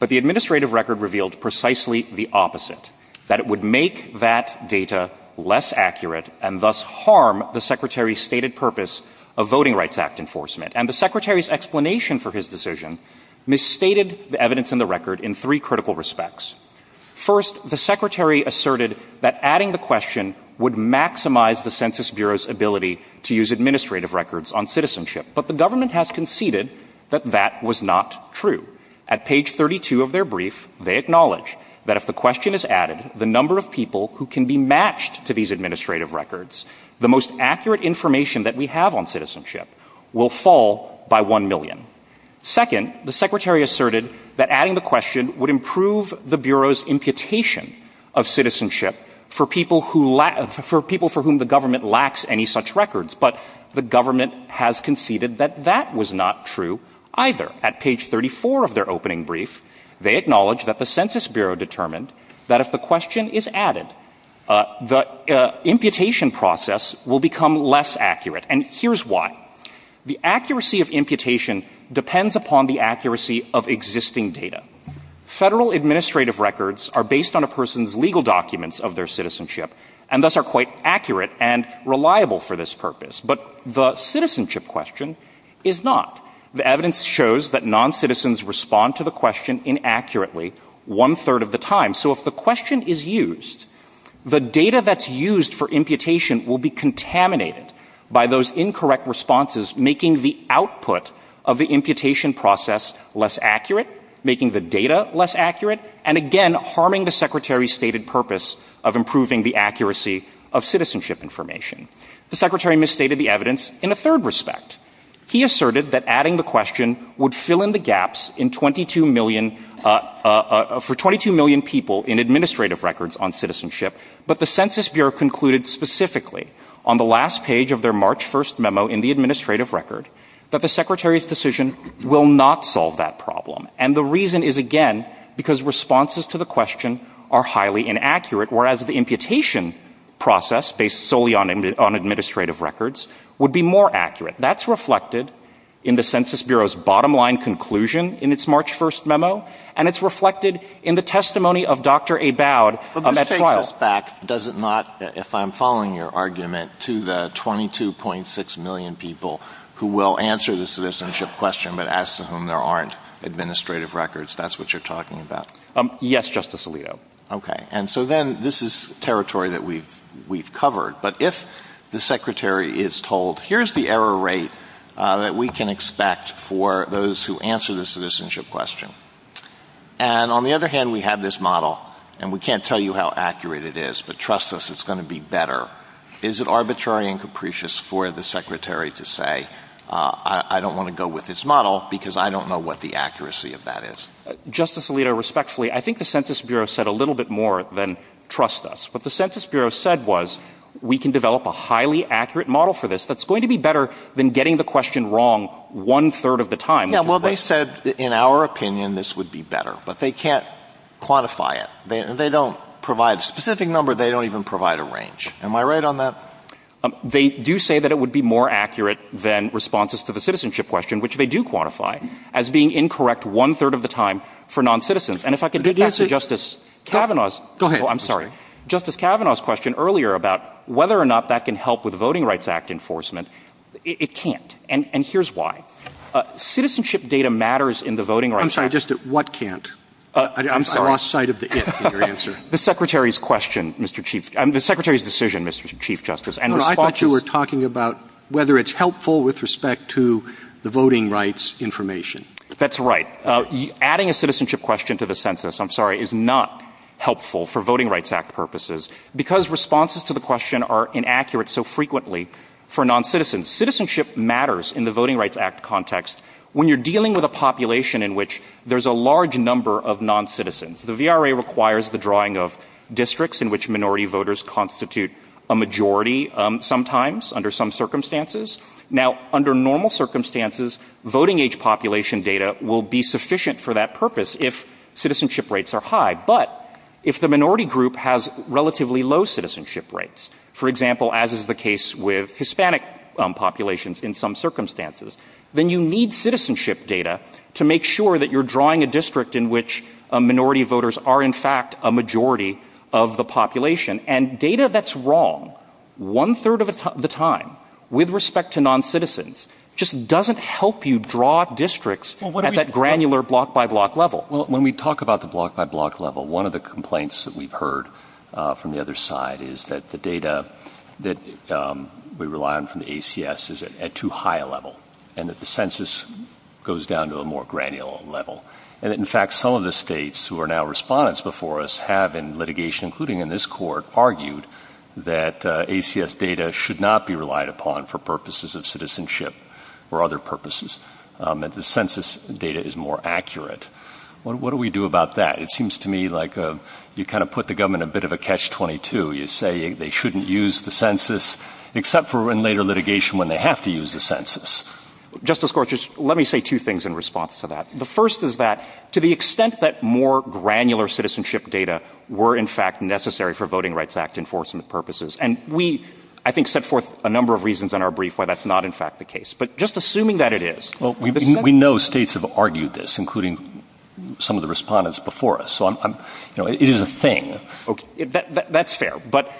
But the administrative record revealed precisely the opposite, that it would make that data less accurate and thus harm the Secretary's stated purpose of Voting Rights Act enforcement. And the Secretary's explanation for his decision misstated the evidence in the record in three critical respects. First, the Secretary asserted that adding the question would maximize the Census Bureau's ability to use administrative records on citizenship. But the government has conceded that that was not true. At page 32 of their brief, they acknowledge that if the question is added, the number of people who can be matched to these administrative records, the most accurate information that we have on citizenship, will fall by one million. Second, the Secretary asserted that adding the question would improve the Bureau's imputation of citizenship for people for whom the government lacks any such records. But the government has conceded that that was not true either. At page 34 of their opening brief, they acknowledge that the Census Bureau determined that if the question is added, the imputation process will become less accurate. And here's why. The accuracy of imputation depends upon the accuracy of existing data. Federal administrative records are based on a person's legal documents of their citizenship and thus are quite accurate and reliable for this purpose. But the citizenship question is not. The evidence shows that non-citizens respond to the question inaccurately one-third of the time. So if the question is used, the data that's used for imputation will be contaminated by those incorrect responses, making the output of the imputation process less accurate, making the data less accurate, and again, harming the Secretary's stated purpose of improving the accuracy of citizenship information. The Secretary misstated the evidence in a third respect. He asserted that adding the question would fill in the gaps for 22 million people in administrative records on citizenship, but the Census Bureau concluded specifically on the last page of their March 1st memo in the administrative record that the Secretary's decision will not solve that problem. And the reason is, again, because responses to the question are highly inaccurate, whereas the imputation process, based solely on administrative records, would be more accurate. That's reflected in the Census Bureau's bottom-line conclusion in its March 1st memo, and it's reflected in the testimony of Dr. Abowd at trial. But let's take this back, does it not, if I'm following your argument, to the 22.6 million people who will answer the citizenship question but ask to whom there aren't administrative records, that's what you're talking about? Yes, Justice Alito. Okay. And so then this is territory that we've covered. But if the Secretary is told, here's the error rate that we can expect for those who answer the citizenship question, and on the other hand, we have this model, and we can't tell you how accurate it is, but trust us, it's going to be better, is it arbitrary and capricious for the Secretary to say, I don't want to go with this model because I don't know what the accuracy of that is? Justice Alito, respectfully, I think the Census Bureau said a little bit more than trust us. What the Census Bureau said was, we can develop a highly accurate model for this that's going to be better than getting the question wrong one-third of the time. Yeah, well, they said, in our opinion, this would be better. But they can't quantify it. They don't provide a specific number, they don't even provide a range. Am I right on that? They do say that it would be more accurate than responses to the citizenship question, which they do quantify as being incorrect one-third of the time for noncitizens. Justice Kavanaugh's question earlier about whether or not that can help with Voting Rights Act enforcement, it can't, and here's why. Citizenship data matters in the Voting Rights Act. I'm sorry, just what can't? I lost sight of the if in your answer. The Secretary's decision, Mr. Chief Justice. I thought you were talking about whether it's helpful with respect to the voting rights information. That's right. Adding a citizenship question to the census, I'm sorry, is not helpful for Voting Rights Act purposes because responses to the question are inaccurate so frequently for noncitizens. Citizenship matters in the Voting Rights Act context when you're dealing with a population in which there's a large number of noncitizens. The VRA requires the drawing of districts in which minority voters constitute a majority, sometimes under some circumstances. Now, under normal circumstances, voting age population data will be sufficient for that purpose if citizenship rates are high. But if the minority group has relatively low citizenship rates, for example, as is the case with Hispanic populations in some circumstances, then you need citizenship data to make sure that you're drawing a district in which minority voters are in fact a majority of the population. Data that's wrong one-third of the time with respect to noncitizens just doesn't help you draw districts at that granular block-by-block level. When we talk about the block-by-block level, one of the complaints that we've heard from the other side is that the data that we rely on from the ACS is at too high a level and that the census goes down to a more granular level. In fact, some of the states who are now respondents before us have in litigation, including in this court, argued that ACS data should not be relied upon for purposes of citizenship or other purposes, that the census data is more accurate. What do we do about that? It seems to me like you kind of put the government in a bit of a catch-22. You say they shouldn't use the census, except for in later litigation when they have to use the census. Justice Gorsuch, let me say two things in response to that. The first is that to the extent that more granular citizenship data were in fact necessary for Voting Rights Act enforcement purposes, and we, I think, set forth a number of reasons in our brief why that's not in fact the case. But just assuming that it is... We know states have argued this, including some of the respondents before us. It is a thing. That's fair. But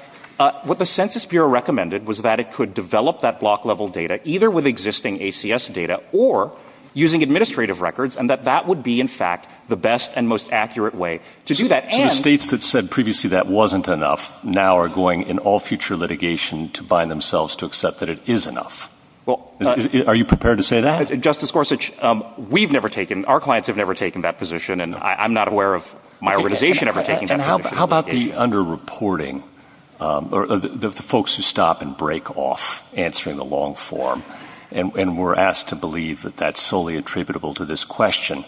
what the Census Bureau recommended was that it could develop that block-level data either with existing ACS data or using administrative records, and that that would be in fact the best and most accurate way to do that. The states that said previously that wasn't enough now are going in all future litigation to bind themselves to accept that it is enough. Are you prepared to say that? Justice Gorsuch, we've never taken... Our clients have never taken that position, and I'm not aware of my organization ever taking that position. How about the under-reporting, the folks who stop and break off answering the long form? And we're asked to believe that that's solely attributable to this question.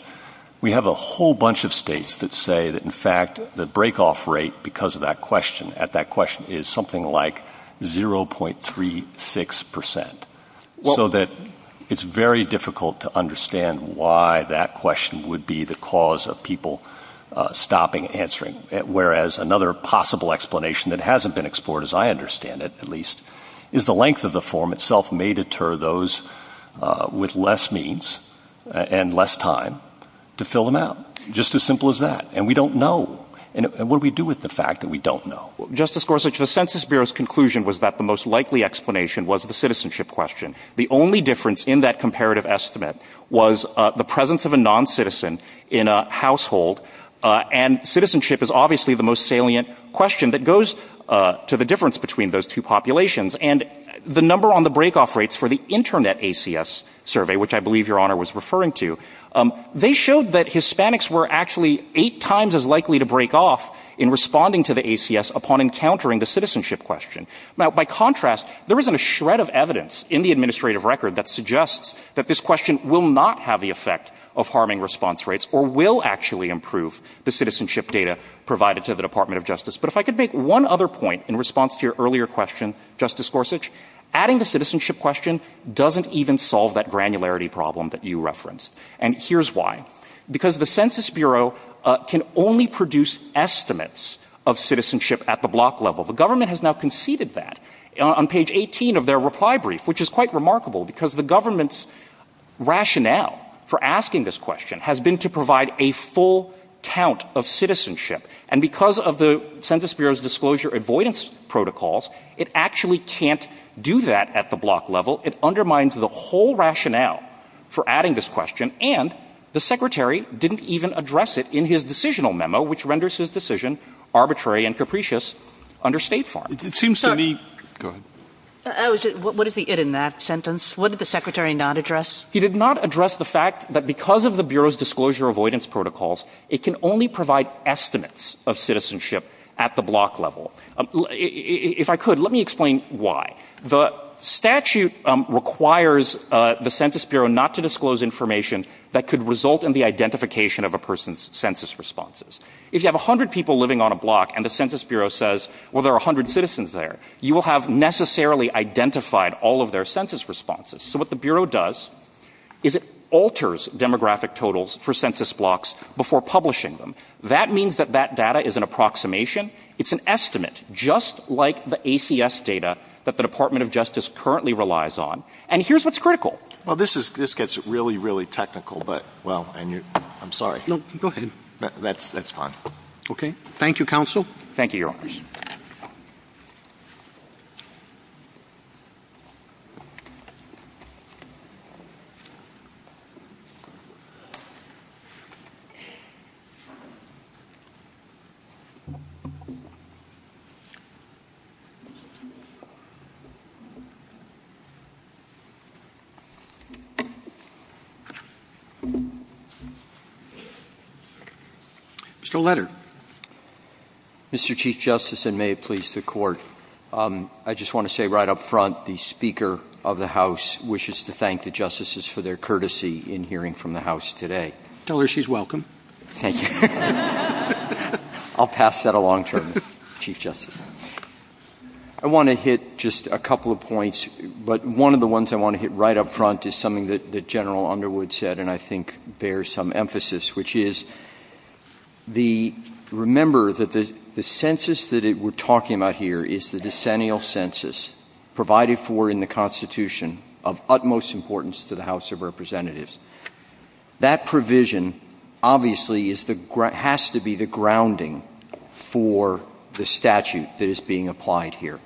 We have a whole bunch of states that say that, in fact, the break-off rate because of that question, at that question, is something like 0.36%, so that it's very difficult to understand why that question would be the cause of people stopping and answering, whereas another possible explanation that hasn't been explored, as I understand it, at least, is the length of the form itself may deter those with less means and less time to fill them out. Just as simple as that. And we don't know. And what do we do with the fact that we don't know? Justice Gorsuch, the Census Bureau's conclusion was that the most likely explanation was the citizenship question. The only difference in that comparative estimate was the presence of a non-citizen in a household, and citizenship is obviously the most salient question that goes to the difference between those two populations. And the number on the break-off rates for the Internet ACS survey, which I believe Your Honour was referring to, they showed that Hispanics were actually eight times as likely to break off in responding to the ACS upon encountering the citizenship question. Now, by contrast, there isn't a shred of evidence in the administrative record that suggests that this question will not have the effect of harming response rates or will actually improve the citizenship data provided to the Department of Justice. But if I could make one other point in response to your earlier question, Justice Gorsuch, adding the citizenship question doesn't even solve that granularity problem that you referenced. And here's why. Because the Census Bureau can only produce estimates of citizenship at the block level. The government has now conceded that on page 18 of their reply brief, which is quite remarkable, because the government's rationale for asking this question has been to provide a full count of citizenship. And because of the Census Bureau's disclosure avoidance protocols, it actually can't do that at the block level. It undermines the whole rationale for adding this question. And the Secretary didn't even address it in his decisional memo, which renders his decision arbitrary and capricious under State Farm. It seems to me... What is the it in that sentence? What did the Secretary not address? He did not address the fact that because of the Bureau's disclosure avoidance protocols, it can only provide estimates of citizenship at the block level. If I could, let me explain why. The statute requires the Census Bureau not to disclose information that could result in the identification of a person's census responses. If you have 100 people living on a block and the Census Bureau says, well, there are 100 citizens there, you will have necessarily identified all of their census responses. So what the Bureau does is it alters demographic totals for census blocks before publishing them. That means that that data is an approximation. It's an estimate, just like the ACS data that the Department of Justice currently relies on. And here's what's critical. Well, this gets really, really technical. But, well, I'm sorry. No, go ahead. That's fine. Okay. Thank you, Counsel. Thank you, Your Honor. Mr. O'Leary. Mr. O'Leary. Mr. Chief Justice, and may it please the Court, I just want to say right up front, the Speaker of the House wishes to thank the Justices for their courtesy in hearing from the House today. Tell her she's welcome. Thank you. I'll pass that along to her, Chief Justice. I want to hit just a couple of points, but one of the ones I want to hit right up front is something that General Underwood said, and I think bears some emphasis, which is remember that the census that we're talking about here is the decennial census provided for in the Constitution of utmost importance to the House of Representatives. That provision, obviously, has to be the grounding for the statute that is being applied here.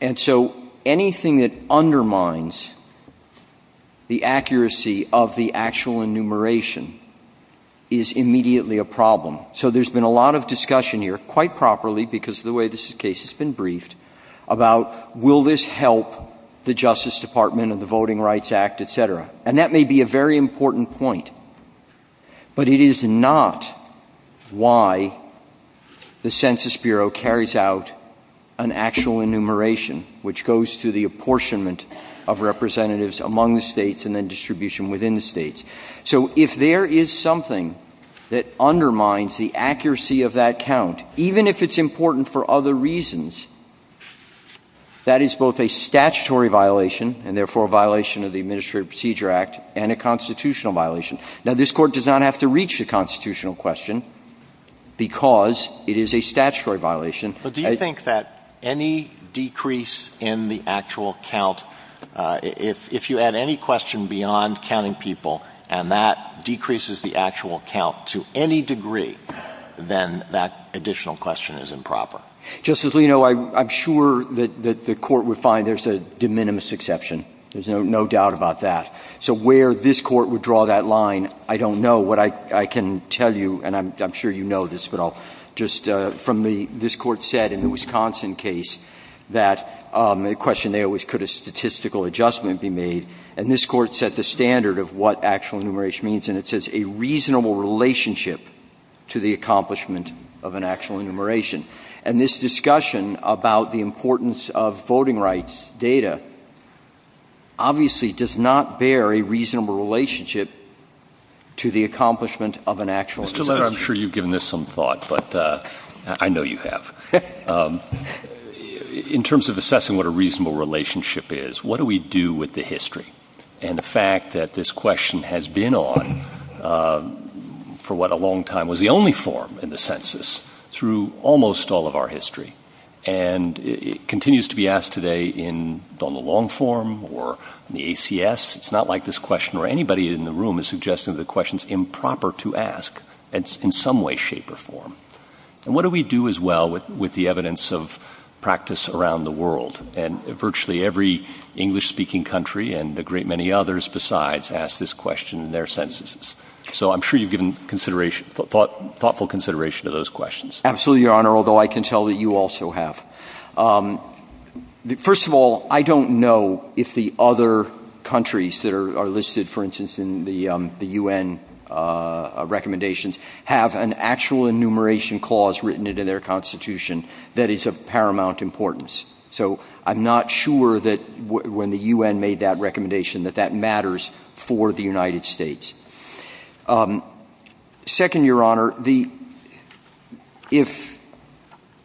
And so anything that undermines the accuracy of the actual enumeration is immediately a problem. So there's been a lot of discussion here, quite properly, because of the way this case has been briefed, about will this help the Justice Department and the Voting Rights Act, et cetera. And that may be a very important point, but it is not why the Census Bureau carries out an actual enumeration which goes through the apportionment of representatives among the states and then distribution within the states. So if there is something that undermines the accuracy of that count, even if it's important for other reasons, that is both a statutory violation and therefore a violation of the Administrative Procedure Act and a constitutional violation. Now, this Court does not have to reach a constitutional question because it is a statutory violation. But do you think that any decrease in the actual count, if you add any question beyond counting people and that decreases the actual count to any degree, then that additional question is improper? Justice Alito, I'm sure that the Court would find there's a de minimis exception. There's no doubt about that. So where this Court would draw that line, I don't know what I can tell you, and I'm sure you know this, but I'll just... This Court said in the Wisconsin case that the question there was, could a statistical adjustment be made? And this Court set the standard of what actual enumeration means, and it says a reasonable relationship to the accomplishment of an actual enumeration. And this discussion about the importance of voting rights data obviously does not bear a reasonable relationship to the accomplishment of an actual enumeration. Mr. Laird, I'm sure you've given this some thought, but I know you have. In terms of assessing what a reasonable relationship is, what do we do with the history? And the fact that this question has been on for what a long time was the only form in the census through almost all of our history. And it continues to be asked today in the long form or in the ACS. It's not like this question or anybody in the room is suggesting that the question's improper to ask. It's in some way, shape, or form. And what do we do as well with the evidence of practice around the world? And virtually every English-speaking country and a great many others besides ask this question in their censuses. So I'm sure you've given thoughtful consideration to those questions. Absolutely, Your Honor, although I can tell that you also have. First of all, I don't know if the other countries that are listed, for instance, in the UN recommendations, have an actual enumeration clause written into their constitution that is of paramount importance. So I'm not sure that when the UN made that recommendation that that matters for the United States. Second, Your Honor, if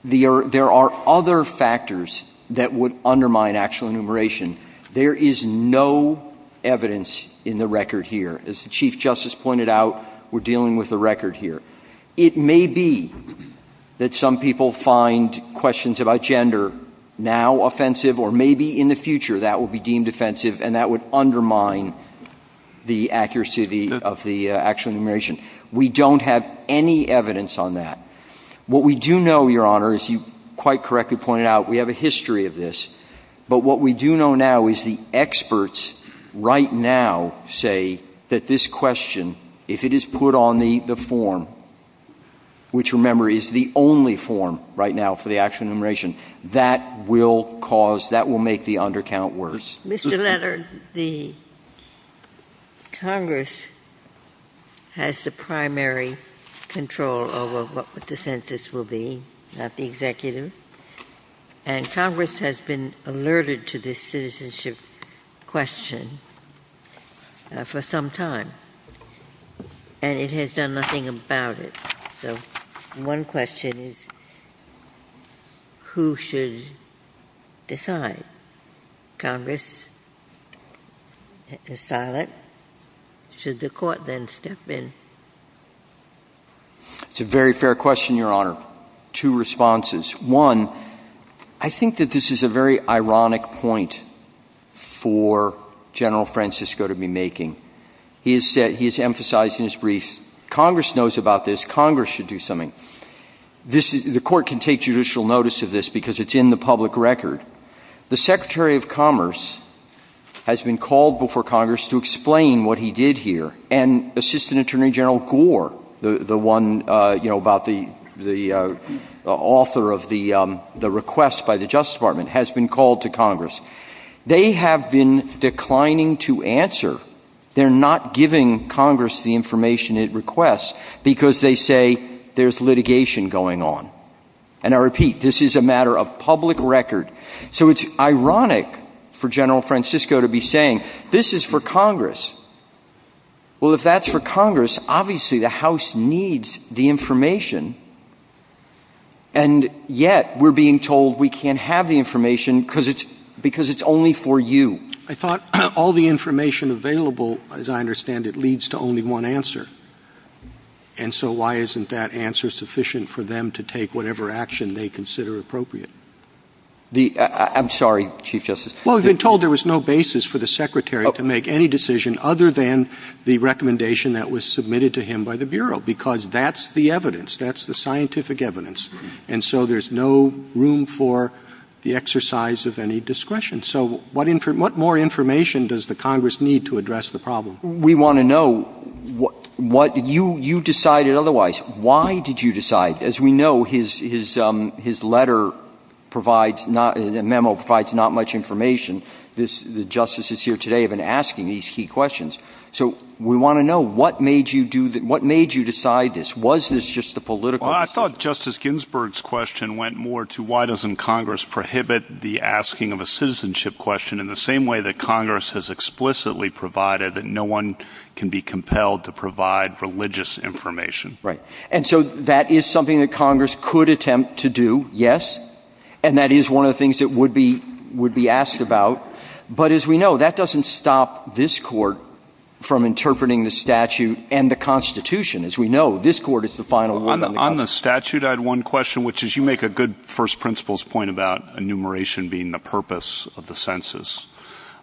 there are other factors that would undermine actual enumeration, there is no evidence in the record here. As the Chief Justice pointed out, we're dealing with the record here. It may be that some people find questions about gender now offensive or maybe in the future that will be deemed offensive and that would undermine the accuracy of the actual enumeration. We don't have any evidence on that. What we do know, Your Honor, as you quite correctly pointed out, we have a history of this, but what we do know now is the experts right now say that this question, if it is put on the form, which, remember, is the only form right now for the actual enumeration, that will cause... that will make the undercount worse. Mr. Leonard, the Congress has the primary control over what the census will be, not the executive, and Congress has been alerted to this citizenship question for some time, and it has done nothing about it. So one question is, who should decide? Congress? It's silent. Should the Court then step in? It's a very fair question, Your Honor. Two responses. One, I think that this is a very ironic point for General Francisco to be making. He has emphasized in his brief, Congress knows about this. Congress should do something. The Court can take judicial notice of this because it's in the public record. The Secretary of Commerce has been called before Congress to explain what he did here, and Assistant Attorney General Gore, the author of the request by the Justice Department, has been called to Congress. They have been declining to answer. They're not giving Congress the information it requests because they say there's litigation going on. And I repeat, this is a matter of public record. So it's ironic for General Francisco to be saying, this is for Congress. Well, if that's for Congress, obviously the House needs the information, and yet we're being told we can't have the information because it's only for you. I thought all the information available, as I understand it, leads to only one answer. And so why isn't that answer sufficient for them to take whatever action they consider appropriate? I'm sorry, Chief Justice. Well, we've been told there was no basis for the Secretary to make any decision other than the recommendation that was submitted to him by the Bureau because that's the evidence. That's the scientific evidence. And so there's no room for the exercise of any discretion. So what more information does the Congress need to address the problem? We want to know what... You decided otherwise. Why did you decide? As we know, his letter provides not... the memo provides not much information. The justices here today have been asking these key questions. So we want to know, what made you decide this? Was this just the political... Well, I thought Justice Ginsburg's question went more to why doesn't Congress prohibit the asking of a citizenship question in the same way that Congress has explicitly provided that no one can be compelled to provide religious information? Right. And so that is something that Congress could attempt to do, yes. And that is one of the things that would be asked about. But as we know, that doesn't stop this Court from interpreting the statute and the Constitution. As we know, this Court is the final... On the statute, I had one question, which is you make a good first principles point about enumeration being the purpose of the census.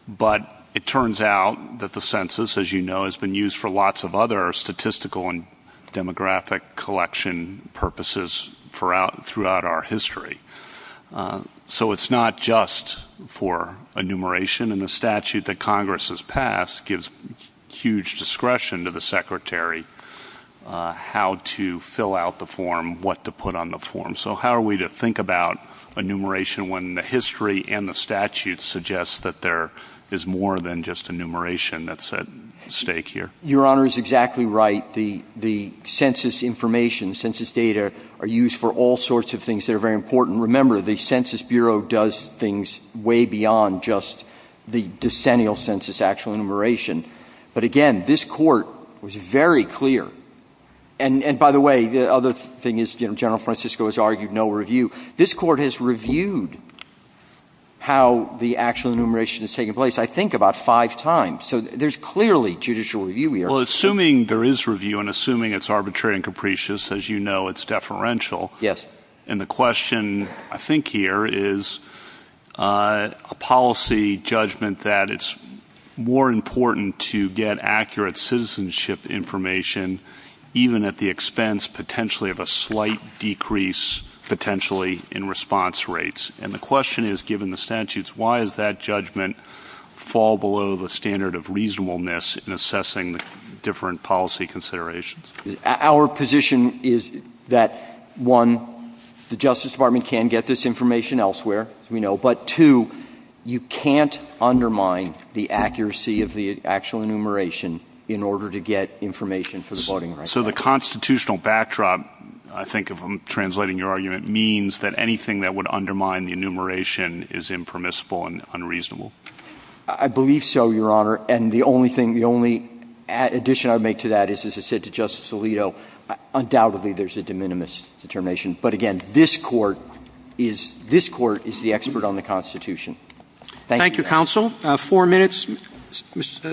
But it turns out that the census, as you know, has been used for lots of other statistical and demographic collection purposes throughout our history. So it's not just for enumeration, and the statute that Congress has passed gives huge discretion to the Secretary how to fill out the form, what to put on the form. So how are we to think about enumeration when the history and the statute suggest that there is more than just enumeration that's at stake here? Your Honour is exactly right. The census information, census data, are used for all sorts of things that are very important. Remember, the Census Bureau does things way beyond just the decennial census actual enumeration. But again, this Court was very clear... And by the way, the other thing is, General Francisco has argued no review. This Court has reviewed how the actual enumeration has taken place, I think, about five times. So there's clearly judicial review here. Well, assuming there is review and assuming it's arbitrary and capricious, as you know, it's deferential. And the question, I think, here is a policy judgment that it's more important to get accurate citizenship information even at the expense, potentially, of a slight decrease, potentially, in response rates. And the question is, given the statutes, why does that judgment fall below the standard of reasonableness in assessing different policy considerations? Our position is that, one, the Justice Department can get this information elsewhere, as we know, but, two, you can't undermine the accuracy of the actual enumeration in order to get information for the voting rights. So the constitutional backdrop, I think, of translating your argument, means that anything that would undermine the enumeration is impermissible and unreasonable. I believe so, Your Honor. And the only addition I would make to that is, as I said to Justice Alito, undoubtedly, there's a de minimis determination. But, again, this Court is the expert on the Constitution. Thank you. Thank you, Counsel. Four minutes,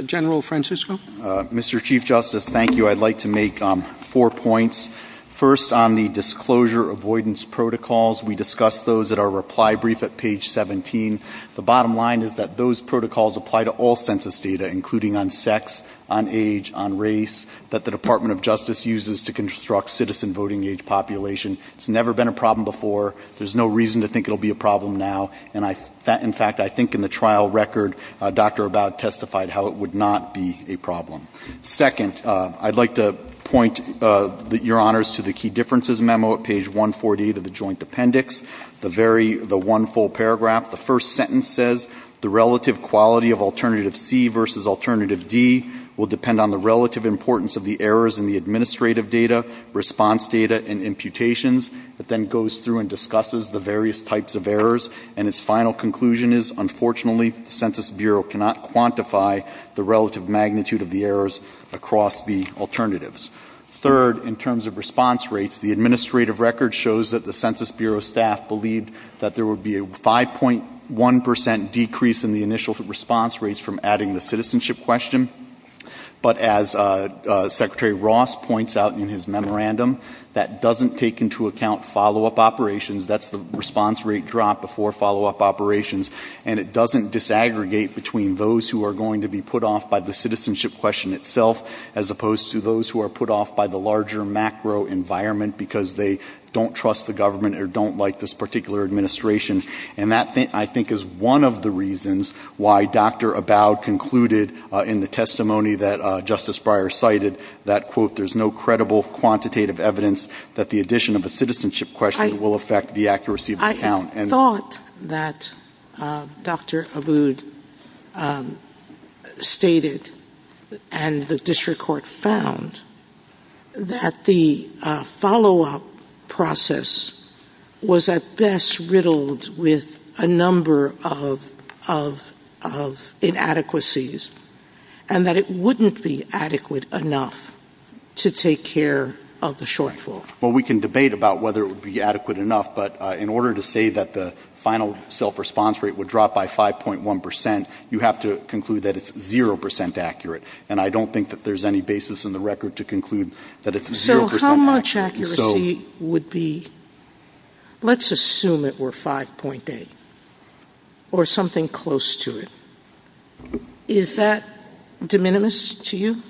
General Francisco. Mr. Chief Justice, thank you. I'd like to make four points. First, on the disclosure avoidance protocols, we discussed those at our reply brief at page 17. The bottom line is that those protocols apply to all census data, including on sex, on age, on race, that the Department of Justice uses to construct citizen voting age populations. It's never been a problem before. There's no reason to think it'll be a problem now. And, in fact, I think in the trial record, Dr. Abad testified how it would not be a problem. Second, I'd like to point, Your Honors, to the Key Differences Memo at page 148 of the Joint Appendix, the one full paragraph. The first sentence says, the relative quality of Alternative C versus Alternative D will depend on the relative importance of the errors in the administrative data, response data, and imputations. It then goes through and discusses the various types of errors. And its final conclusion is, unfortunately, the Census Bureau cannot quantify the relative magnitude of the errors across the alternatives. Third, in terms of response rates, the administrative record shows that the Census Bureau staff believed that there would be a 5.1% decrease in the initial response rates from adding the citizenship question. But as Secretary Ross points out in his memorandum, that doesn't take into account follow-up operations. That's the response rate drop before follow-up operations. And it doesn't disaggregate between those who are going to be put off by the citizenship question itself as opposed to those who are put off by the larger macro environment because they don't trust the government or don't like this particular administration. And that, I think, is one of the reasons why Dr. Abowd concluded in the testimony that Justice Breyer cited that, quote, there's no credible quantitative evidence that the addition of the citizenship question will affect the accuracy of the count. We thought that Dr. Abowd stated and the district court found that the follow-up process was at best riddled with a number of inadequacies and that it wouldn't be adequate enough to take care of the shortfall. Well, we can debate about whether it would be adequate enough, but in order to say that the final self-response rate would drop by 5.1%, you have to conclude that it's 0% accurate. And I don't think that there's any basis in the record to conclude that it's 0% accurate. So how much accuracy would be... Let's assume it were 5.8 or something close to it. Is that de minimis to you?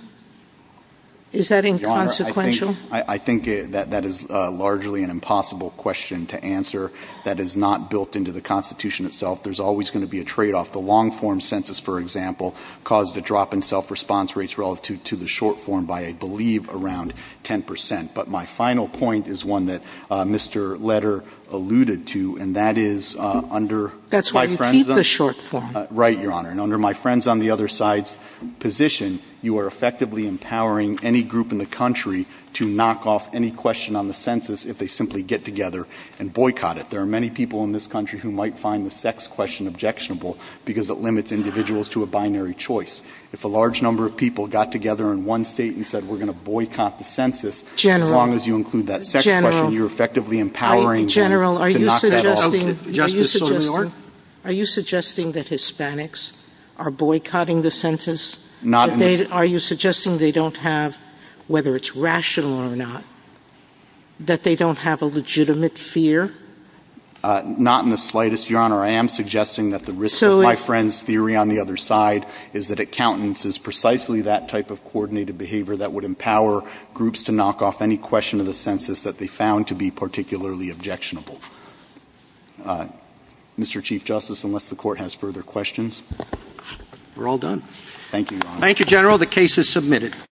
Is that inconsequential? I think that that is largely an impossible question to answer that is not built into the Constitution itself. There's always going to be a trade-off. The long-form census, for example, caused a drop in self-response rates relative to the short-form by, I believe, around 10%. But my final point is one that Mr. Leder alluded to, and that is under... That's when you keep the short-form. Right, Your Honor. And under my friends on the other side's position, you are effectively empowering any group in the country to knock off any question on the census if they simply get together and boycott it. There are many people in this country who might find the sex question objectionable because it limits individuals to a binary choice. If a large number of people got together in one state and said, we're going to boycott the census, as long as you include that sex question, you're effectively empowering them to knock that off. Justice Sotomayor? Are you suggesting that Hispanics are boycotting the census? Are you suggesting they don't have, whether it's rational or not, that they don't have a legitimate fear? Not in the slightest, Your Honor. I am suggesting that the risk of my friend's theory on the other side is that accountants is precisely that type of coordinated behavior that would empower groups to knock off any question of the census that they found to be particularly objectionable. Mr. Chief Justice, unless the Court has further questions... We're all done. Thank you, Your Honor. Thank you, General. The case is submitted.